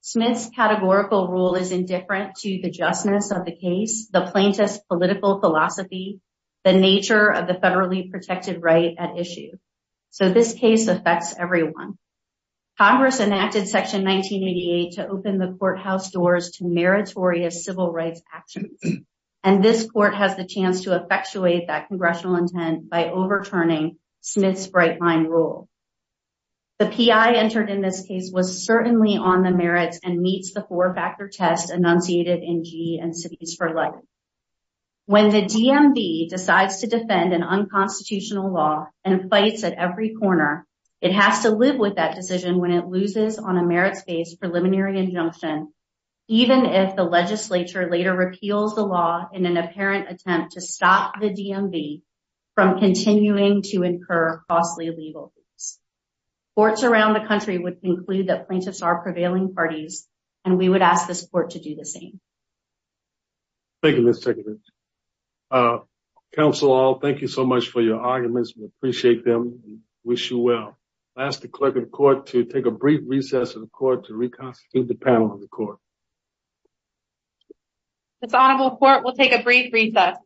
Smith's categorical rule is indifferent to the justness of the case, the plaintiff's political philosophy, the nature of the federally protected right at issue. So, this case affects everyone. Congress enacted Section 1988 to open the courthouse doors to meritorious civil rights action, and this court has the chance to effectuate that congressional intent by overturning Smith's bright line rule. The PI entered in this case was certainly on the merits and meets the four-factor test enunciated in G and Cities for Life. When the DMV decides to defend an with that decision when it loses on a merits-based preliminary injunction, even if the legislature later repeals the law in an apparent attempt to stop the DMV from continuing to incur costly legal disputes. Courts around the country would conclude that plaintiffs are prevailing parties, and we would ask this court to do the same. Thank you, Ms. Tickett. Counsel, all, thank you so much for your arguments. We appreciate them and wish you well. I ask the clerk of the court to take a brief recess of the court to reconstitute the panel of the court. The panel of the court will take a brief recess.